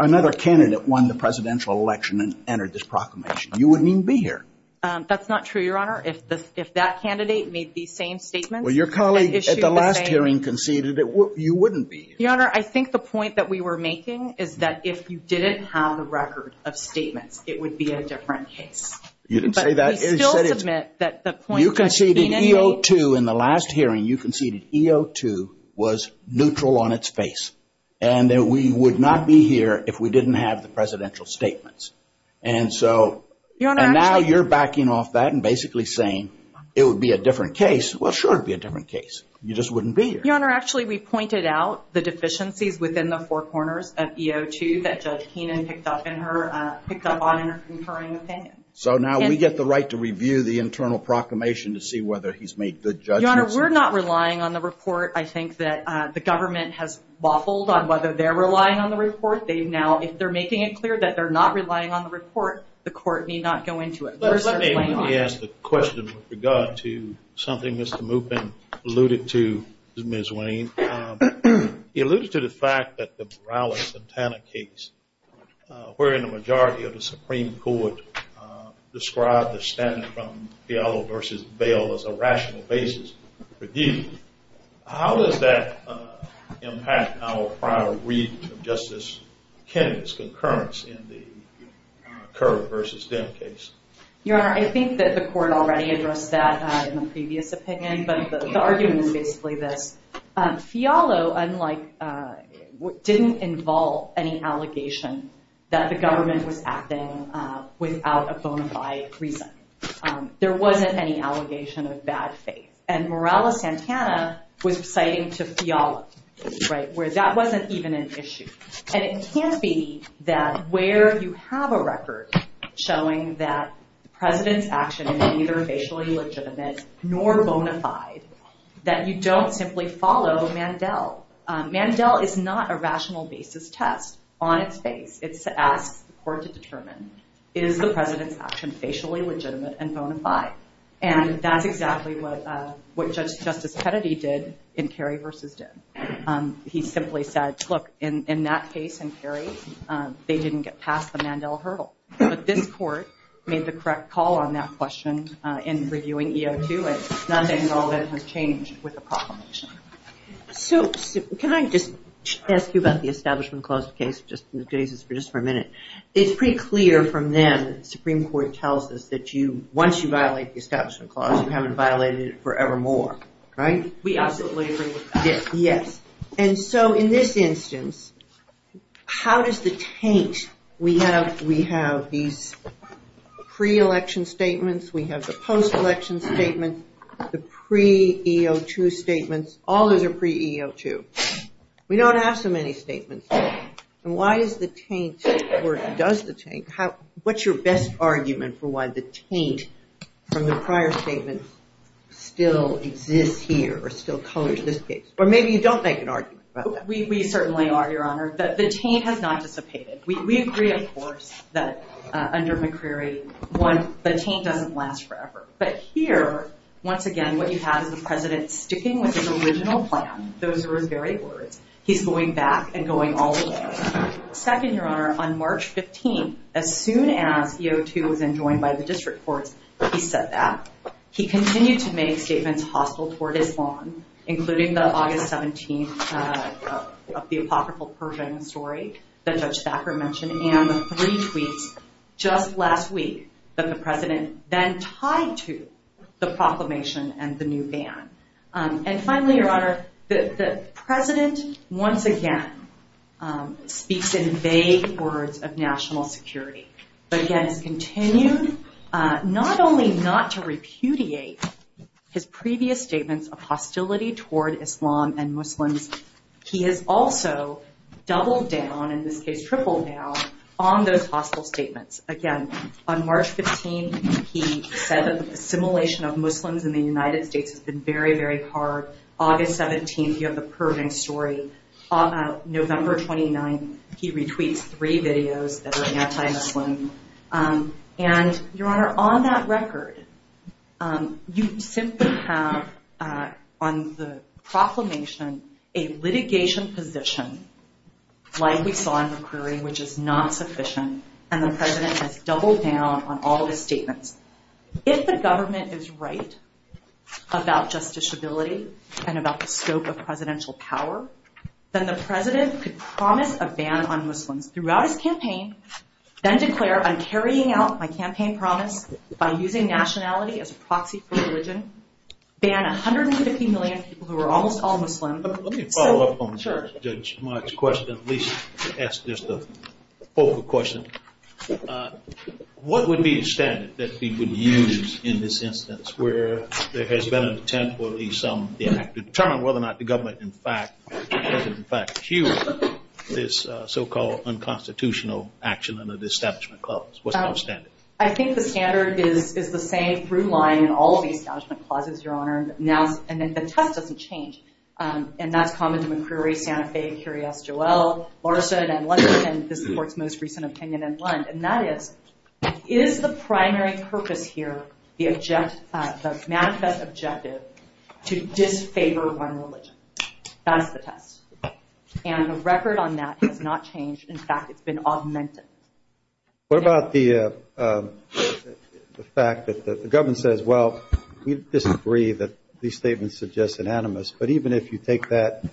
another candidate won the presidential election and entered this proclamation? You wouldn't even be here. That's not true, Your Honor. If that candidate made these same statements... Well, your colleague at the last hearing conceded that you wouldn't be here. Your Honor, I think the point that we were making is that if you didn't have a record of statements, it would be a different case. You didn't say that. You conceded EO2 in the last hearing. You conceded EO2 was neutral on its face, and that we would not be here if we didn't have the presidential statements. And so now you're backing off that and basically saying it would be a different case. Well, sure, it would be a different case. You just wouldn't be here. Your Honor, actually, we pointed out the deficiencies within the four corners of EO2 that Judge Keenan picked up on in her conferring opinion. So now we get the right to review the internal proclamation to see whether he's made good judgments. Your Honor, we're not relying on the report. I think that the government has waffled on whether they're relying on the report. Now, if they're making it clear that they're not relying on the report, the court may not go into it. Let me ask a question with regard to something Mr. Moopin alluded to, Ms. Wayne. He alluded to the fact that the Morales-Santana case, wherein the majority of the Supreme Court described the standing from Fialo v. Bale as a rational basis for review. How does that impact our prior read of Justice Kennedy's concurrence in the Kerr v. Dem case? Your Honor, I think that the court already addressed that in a previous opinion. But the argument, basically, that Fialo didn't involve any allegation that the government was acting without a bona fide reason. There wasn't any allegation of bad faith. And Morales-Santana was citing to Fialo, where that wasn't even an issue. And it can't be that where you have a record showing that the President's action is neither facially legitimate nor bona fide, that you don't simply follow Mandel. Mandel is not a rational basis test on its face. It's to ask the court to determine, is the President's action facially legitimate and bona fide? And that's exactly what Justice Kennedy did in Kerr v. Dem. He simply said, look, in that case in Kerr v. Dem, they didn't get past the Mandel hurdle. But this court made the correct call on that question in reviewing EO2. None of that has changed with the proclamation. So, can I just ask you about the Establishment Clause case, just for a minute? It's pretty clear from them that the Supreme Court tells us that once you violate the Establishment Clause, you haven't violated it forevermore, right? We haven't violated it yet. And so, in this instance, how does the taint? We have these pre-election statements, we have the post-election statements, the pre-EO2 statements, all of the pre-EO2. We don't have so many statements. Why is the taint, or does the taint, what's your best argument for why the taint from the prior statement still exists here, or still covers this case? Or maybe you don't make an argument about that. We certainly are, Your Honor. The taint has not dissipated. We agree, of course, that under McCreary, the taint doesn't last forever. But here, once again, what you have is the President sticking with his original plan. Those are his very words. He's going back and going all the way. Second, Your Honor, on March 15th, as soon as EO2 had been joined by the District Court, he said that. He continued to make statements hostile toward his lawn, including the August 17th, the apocryphal Persian story that Judge Thackeray mentioned, and the three tweets just last week that the President then tied to the proclamation and the new ban. And finally, Your Honor, the President once again speaks in vague words of national security, but again has continued not only not to repudiate his previous statements of hostility toward Islam and Muslims, he has also doubled down, in this case tripled down, on those hostile statements. Again, on March 15th, he said assimilation of Muslims in the United States has been very, very hard. August 17th, he has a purging story. November 29th, he retweets three videos that are anti-Muslims. And, Your Honor, on that record, you simply have on the proclamation a litigation position, like we saw in McCreary, which is not sufficient. And the President has doubled down on all of his statements. If the government is right about justiciability and about the scope of presidential power, then the President could promise a ban on Muslims throughout his campaign, then declare, I'm carrying out my campaign promise by using nationality as a proxy for religion, ban 150 million people who are almost all Muslims. Let me follow up on Judge March's question, at least. That's just a focal question. What would be the standard that he would use in this instance where there has been an attempt to determine whether or not the government has in fact hewed this so-called unconstitutional action under the Establishment Clause? What's the standard? I think the standard is the same through line in all of the Establishment Clauses, Your Honor. And then the test doesn't change. And that's common in McCreary, Santa Fe, Curious, Joel, Larson, and one of the most recent opinions in Lund. And that is, is the primary purpose here, the manifest objective, to disfavor one religion? That's the test. And the record on that has not changed. In fact, it's been augmented. What about the fact that the government says, well, we disagree that these statements are just anonymous. But even if you take that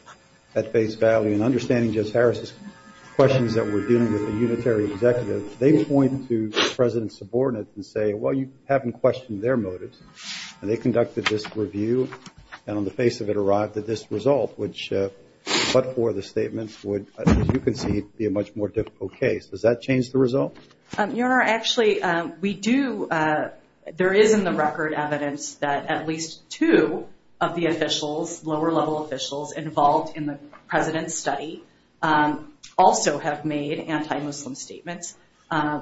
at face value and understanding Judge Harris's questions that were dealing with the unitary executive, they point to the President's subordinates and say, well, you haven't questioned their motives. And they conducted this review, and on the face of it arrived at this result, which, but for the statement, would, as you can see, be a much more difficult case. Does that change the result? Your Honor, actually, we do. There is in the record evidence that at least two of the officials, lower level officials, involved in the President's study also have made anti-Muslim statements.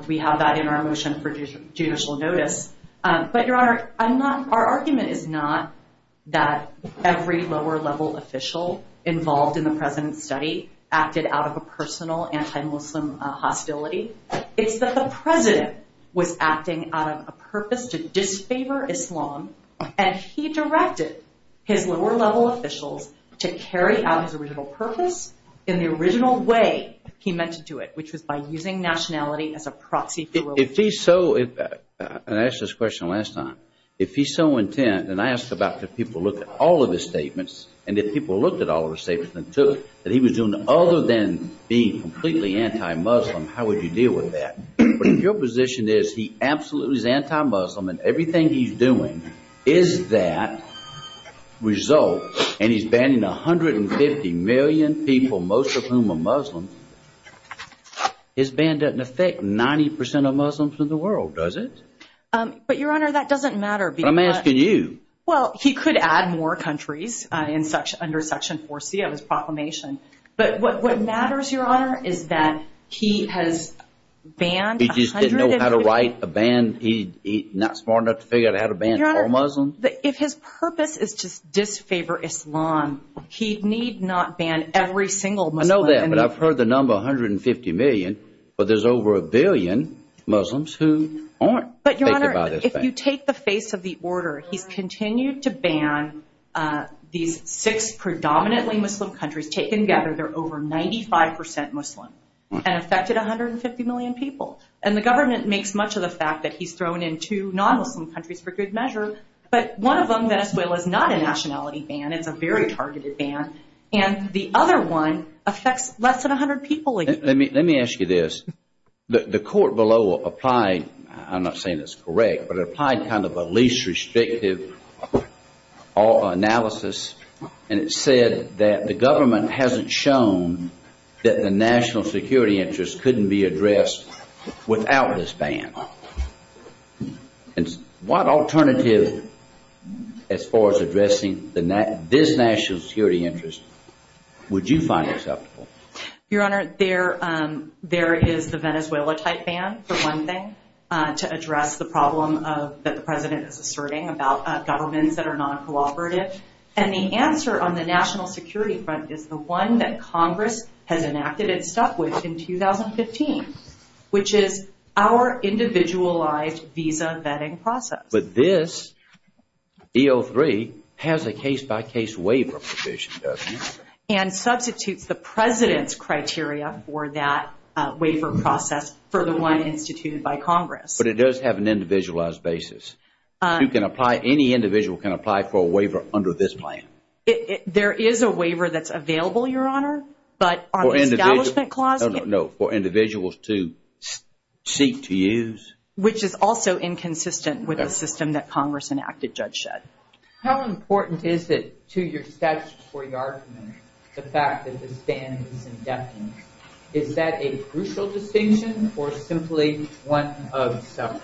We have that in our motion for judicial notice. But, Your Honor, our argument is not that every lower level official involved in the President's study acted out of a personal anti-Muslim hostility. It's that the President was acting out of a purpose to disfavor Islam, and he directed his lower level officials to carry out his original purpose in the original way he meant to do it, which was by using nationality as a proxy for religion. I asked this question last time. If he's so intent, and I asked about if people looked at all of his statements, and if people looked at all of his statements and took that he was doing other than being completely anti-Muslim, how would you deal with that? But if your position is he absolutely is anti-Muslim and everything he's doing is that result, and he's banning 150 million people, most of whom are Muslim, his ban doesn't affect 90% of Muslims in the world, does it? But, Your Honor, that doesn't matter. But I'm asking you. Well, he could add more countries under Section 4C of his proclamation. But what matters, Your Honor, is that he has banned 100… He just didn't know how to write a ban. He's not smart enough to figure out how to ban all Muslims. Your Honor, if his purpose is to disfavor Islam, he need not ban every single Muslim. I know that, but I've heard the number 150 million, but there's over a billion Muslims who aren't affected by this ban. But, Your Honor, if you take the face of the order, he's continued to ban these six predominantly Muslim countries. Taken together, they're over 95% Muslim and affected 150 million people. And the government makes much of the fact that he's thrown in two non-Muslim countries for good measure, but one of them, Venezuela, is not a nationality ban. It's a very targeted ban. And the other one affects less than 100 people. Let me ask you this. The court below applied, I'm not saying it's correct, but it applied kind of a least restrictive analysis. And it said that the government hasn't shown that the national security interest couldn't be addressed without this ban. And what alternative, as far as addressing this national security interest, would you find acceptable? Your Honor, there is the Venezuela-type ban, for one thing, to address the problem that the President is asserting about governments that are non-cooperative. And the answer on the national security front is the one that Congress has enacted and stuck with in 2015, which is our individualized visa vetting process. But this E03 has a case-by-case waiver provision, doesn't it? And substitutes the President's criteria for that waiver process for the one instituted by Congress. But it does have an individualized basis. You can apply, any individual can apply for a waiver under this plan. There is a waiver that's available, Your Honor, but on the establishment clause. No, no, no, for individuals to seek to use. Which is also inconsistent with the system that Congress enacted, Judge Shedd. How important is it to your statute for the argument, the fact that it stands as indefinite? Is that a crucial distinction or simply one of several?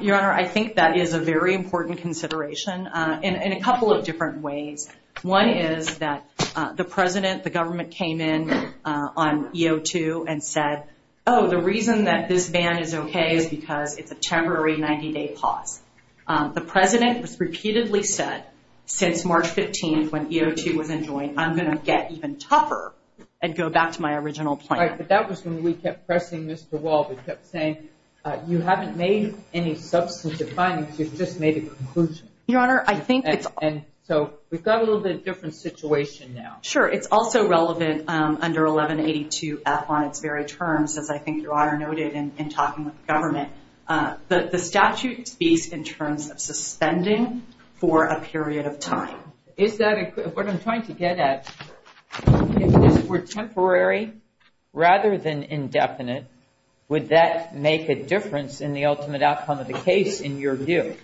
Your Honor, I think that is a very important consideration in a couple of different ways. One is that the President, the government came in on E02 and said, oh, the reason that this ban is okay is because it's a temporary 90-day pause. The President has repeatedly said since March 15th when E02 was enjoined, I'm going to get even tougher and go back to my original plan. Right, but that was when we kept pressing Mr. Wald and kept saying, you haven't made any substantive findings, you've just made a conclusion. So we've got a little bit of a different situation now. Sure, it's also relevant under 1182F on its very terms, as I think Your Honor noted in talking with the government. The statute speaks in terms of suspending for a period of time. What I'm trying to get at, if it were temporary rather than indefinite, would that make a difference in the ultimate outcome of the case in your view?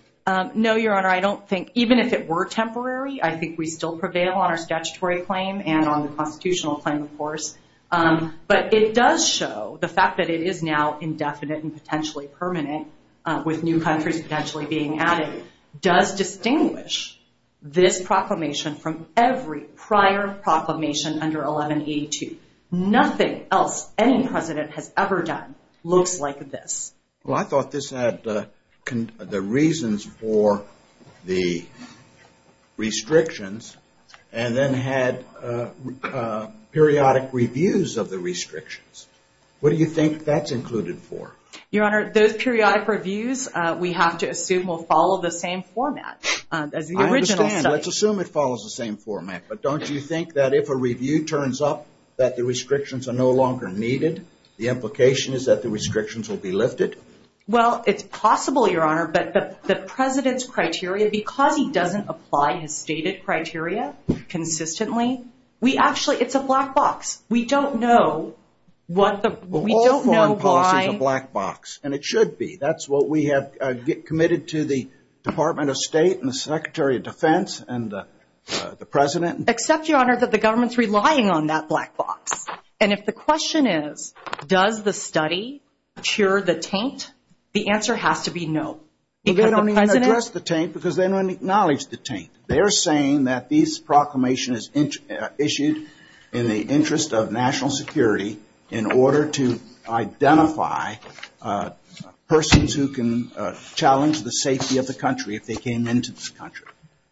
No, Your Honor, I don't think, even if it were temporary, I think we still prevail on our statutory claim and on the constitutional claim, of course. But it does show, the fact that it is now indefinite and potentially permanent with new countries potentially being added, does distinguish this proclamation from every prior proclamation under 1182. Nothing else any President has ever done looks like this. Well, I thought this had the reasons for the restrictions and then had periodic reviews of the restrictions. What do you think that's included for? Your Honor, those periodic reviews we have to assume will follow the same format as the original. I understand. Let's assume it follows the same format. But don't you think that if a review turns up that the restrictions are no longer needed, the implication is that the restrictions will be lifted? Well, it's possible, Your Honor. But the President's criteria, because he doesn't apply his stated criteria consistently, we actually, it's a black box. We don't know what the, we don't know why. Well, all foreign policy is a black box, and it should be. That's what we have committed to the Department of State and the Secretary of Defense and the President. Except, Your Honor, that the government's relying on that black box. And if the question is, does the study cure the taint, the answer has to be no. They don't even address the taint because they don't acknowledge the taint. They are saying that these proclamations are issued in the interest of national security in order to identify persons who can challenge the safety of the country if they came into this country.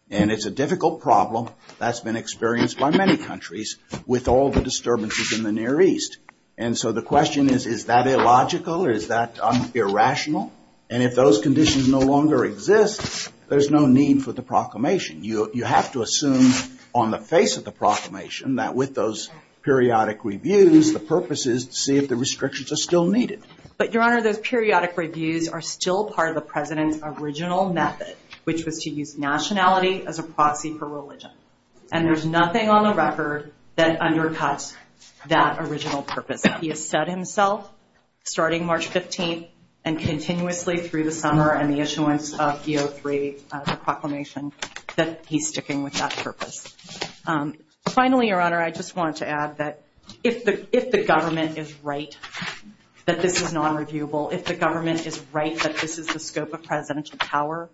And it's a difficult problem that's been experienced by many countries with all the disturbances in the Near East. And so the question is, is that illogical or is that irrational? And if those conditions no longer exist, there's no need for the proclamation. You have to assume on the face of the proclamation that with those periodic reviews, the purpose is to see if the restrictions are still needed. But, Your Honor, those periodic reviews are still part of the President's original method, which was to use nationality as a proxy for religion. And there's nothing on the record that undercuts that original purpose. He has said himself, starting March 15th and continuously through the summer and the issuance of DO3 proclamations that he's sticking with that purpose. Finally, Your Honor, I just want to add that if the government is right that this is non-reviewable, if the government is right that this is the scope of presidential power,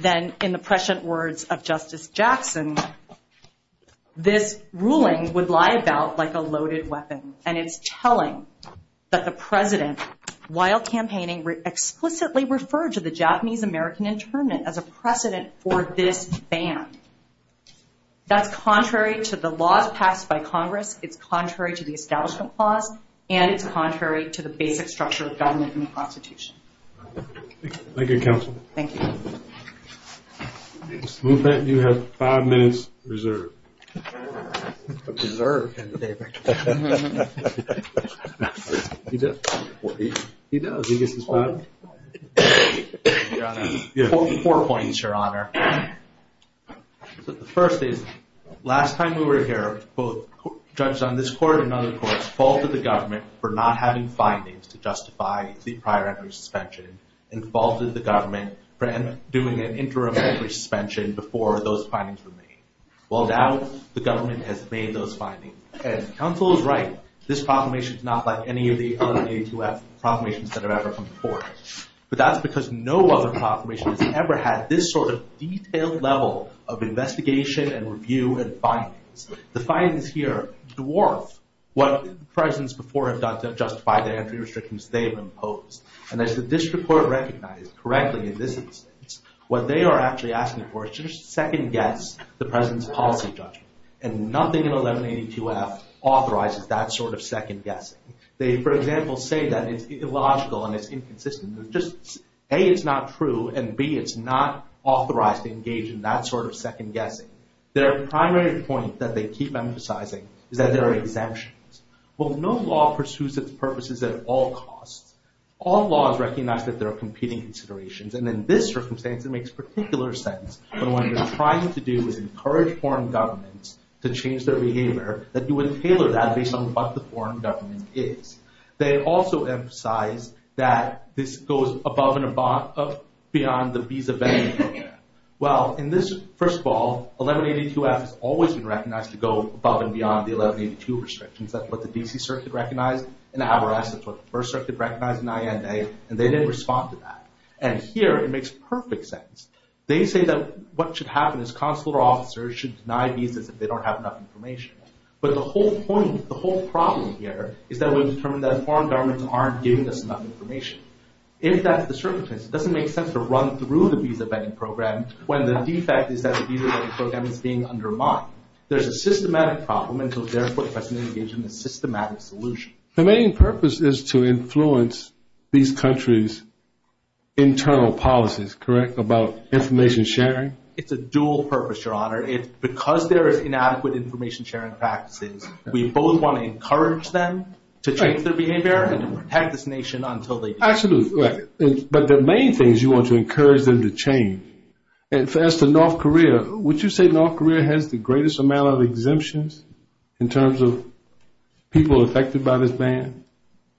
then in the prescient words of Justice Jackson, this ruling would lie about like a loaded weapon. And it's telling that the President, while campaigning, explicitly referred to the Japanese-American internment as a precedent for this ban. That's contrary to the laws passed by Congress. It's contrary to the Establishment Clause. And it's contrary to the basic structure of government and the Constitution. Thank you, Counsel. Thank you. Mr. Moopitt, you have five minutes reserved. Reserved, David. He does. He does. He gets his time. Four points, Your Honor. The first is, last time we were here, both judges on this court and other courts faulted the government for not having findings to justify the prior entry suspension and faulted the government for doing an interim entry suspension before those findings were made. Well, now the government has made those findings. And Counsel is right. This proclamation is not like any of the other ATF proclamations that have ever come before us. But that's because no other proclamation has ever had this sort of detailed level of investigation and review and findings. The findings here dwarfed what presidents before have done to justify the entry restrictions they have imposed. And as the district court recognized correctly in this instance, what they are actually asking for is just a second guess to the president's policy judgment. And nothing in 1182 has authorized that sort of second guess. They, for example, say that it's illogical and it's inconsistent. A, it's not true. And B, it's not authorized to engage in that sort of second guessing. Their primary point that they keep emphasizing is that there are exemptions. Well, no law pursues its purposes at all costs. All laws recognize that there are competing considerations. And in this circumstance, it makes particular sense that what they're trying to do is encourage foreign governments to change their behavior and tailor that based on what the foreign government is. They also emphasize that this goes above and beyond the visa ban. Well, in this, first of all, 1182 has always been recognized to go above and beyond the 1182 restrictions. That's what the D.C. Circuit recognized. In the Havarest, that's what the First Circuit recognized in INA. And they didn't respond to that. And here, it makes perfect sense. They say that what should happen is consular officers should deny visas if they don't have enough information. But the whole point, the whole problem here, is that we've determined that foreign governments aren't giving us enough information. In fact, the circumstance, it doesn't make sense to run through the visa banning program when the defect is that the visa banning program is being undermined. There's a systematic problem, and so therefore, it's best to engage in a systematic solution. The main purpose is to influence these countries' internal policies, correct, about information sharing? It's a dual purpose, Your Honor. It's because there are inadequate information sharing practices, we both want to encourage them to change their behavior and protect this nation until they do. Absolutely. But the main thing is you want to encourage them to change. And to ask the North Korea, would you say North Korea has the greatest amount of exemptions in terms of people affected by this ban?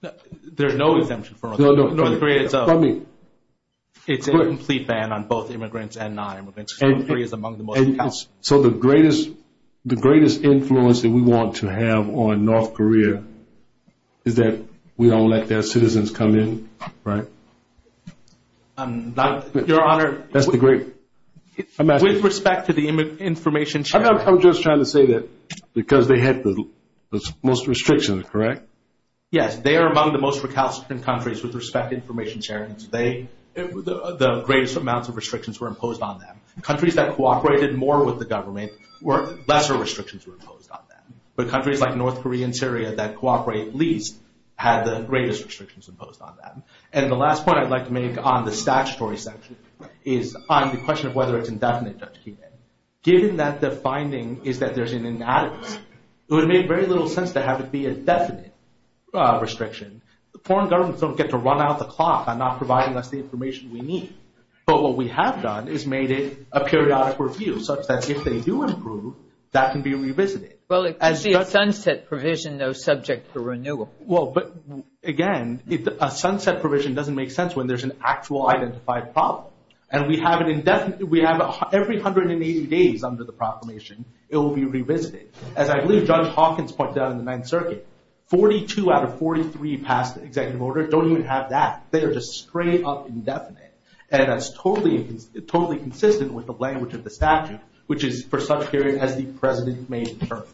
There are no exemptions for North Korea. It's a complete ban on both immigrants and non-immigrants. So the greatest influence that we want to have on North Korea is that we don't let their citizens come in, right? Your Honor, with respect to the information sharing – I'm just trying to say that because they have the most restrictions, correct? Yes, they are among the most recalcitrant countries with respect to information sharing. The greatest amounts of restrictions were imposed on them. Countries that cooperated more with the government, lesser restrictions were imposed on them. But countries like North Korea and Syria that cooperate least had the greatest restrictions imposed on them. And the last point I'd like to make on the statutory section is on the question of whether it's indefinite, Judge Kuhn. Given that the finding is that there's an inadequate, it would make very little sense to have it be indefinite restriction. Foreign governments don't get to run out the clock on not providing us the information we need. But what we have done is made it a periodic review such that if they do improve, that can be revisited. Well, it could be a sunset provision, though, subject to renewal. Well, but again, a sunset provision doesn't make sense when there's an actual identified problem. And we have an indefinite – every 180 days under the proclamation, it will be revisited. And I believe Judge Hawkins pointed out in the Ninth Circuit, 42 out of 43 past the executive order don't even have that. They are just straight up indefinite. And that's totally consistent with the language of the statute, which is, for such period as the president may determine.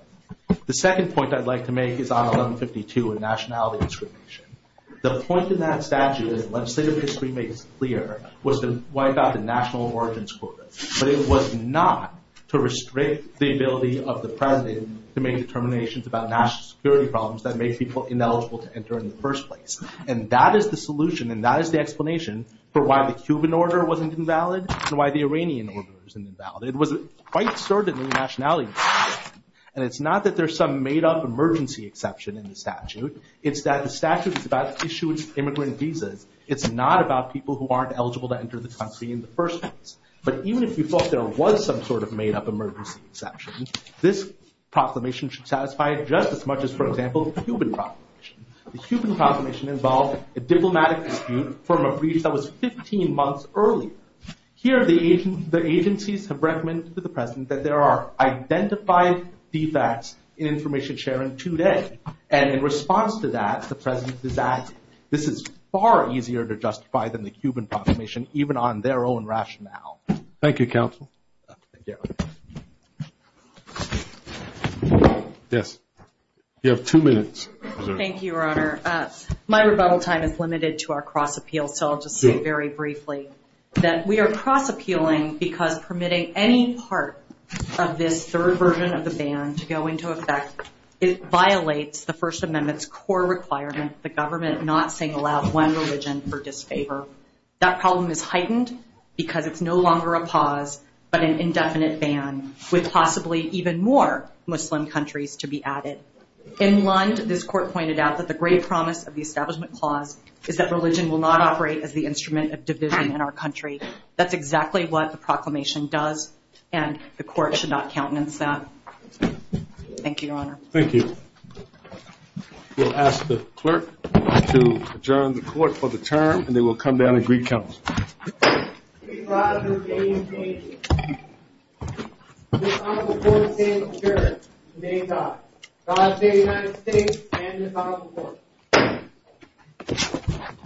The second point I'd like to make is on 1152, a nationality restriction. The point in that statute that legislative history makes clear was the one about the national origins quota. But it was not to restrict the ability of the president to make determinations about national security problems that made people ineligible to enter in the first place. And that is the solution, and that is the explanation for why the Cuban order wasn't invalid and why the Iranian order wasn't invalid. It was quite sort of a nationality restriction. And it's not that there's some made-up emergency exception in the statute. It's that the statute is about issuing immigrant visas. It's not about people who aren't eligible to enter the country in the first place. But even if you thought there was some sort of made-up emergency exception, this proclamation should satisfy it just as much as, for example, the Cuban proclamation. The Cuban proclamation involved a diplomatic dispute from a brief that was 15 months earlier. Here the agencies have recommended to the president that there are identified defects in information sharing today. And in response to that, the president has asked, this is far easier to justify than the Cuban proclamation, even on their own rationale. Thank you, counsel. Yes, you have two minutes. Thank you, Your Honor. My rebuttal time is limited to our cross-appeal, so I'll just say very briefly that we are cross-appealing because permitting any part of this third version of the ban to go into effect violates the First Amendment's core requirements, the government not saying allow one religion or disfavor. That problem is heightened because it's no longer a pause but an indefinite ban with possibly even more Muslim countries to be added. In Lund, this court pointed out that the great promise of the establishment clause is that religion will not operate as the instrument of division in our country. That's exactly what the proclamation does, and the court should not countenance that. Thank you, Your Honor. Thank you. We'll ask the clerk to adjourn the court for the term, and they will come down in Greek countenance. We rise in the name of Jesus. We rise before the name of Jesus, the name of God. God save the United States and His Honorable Court.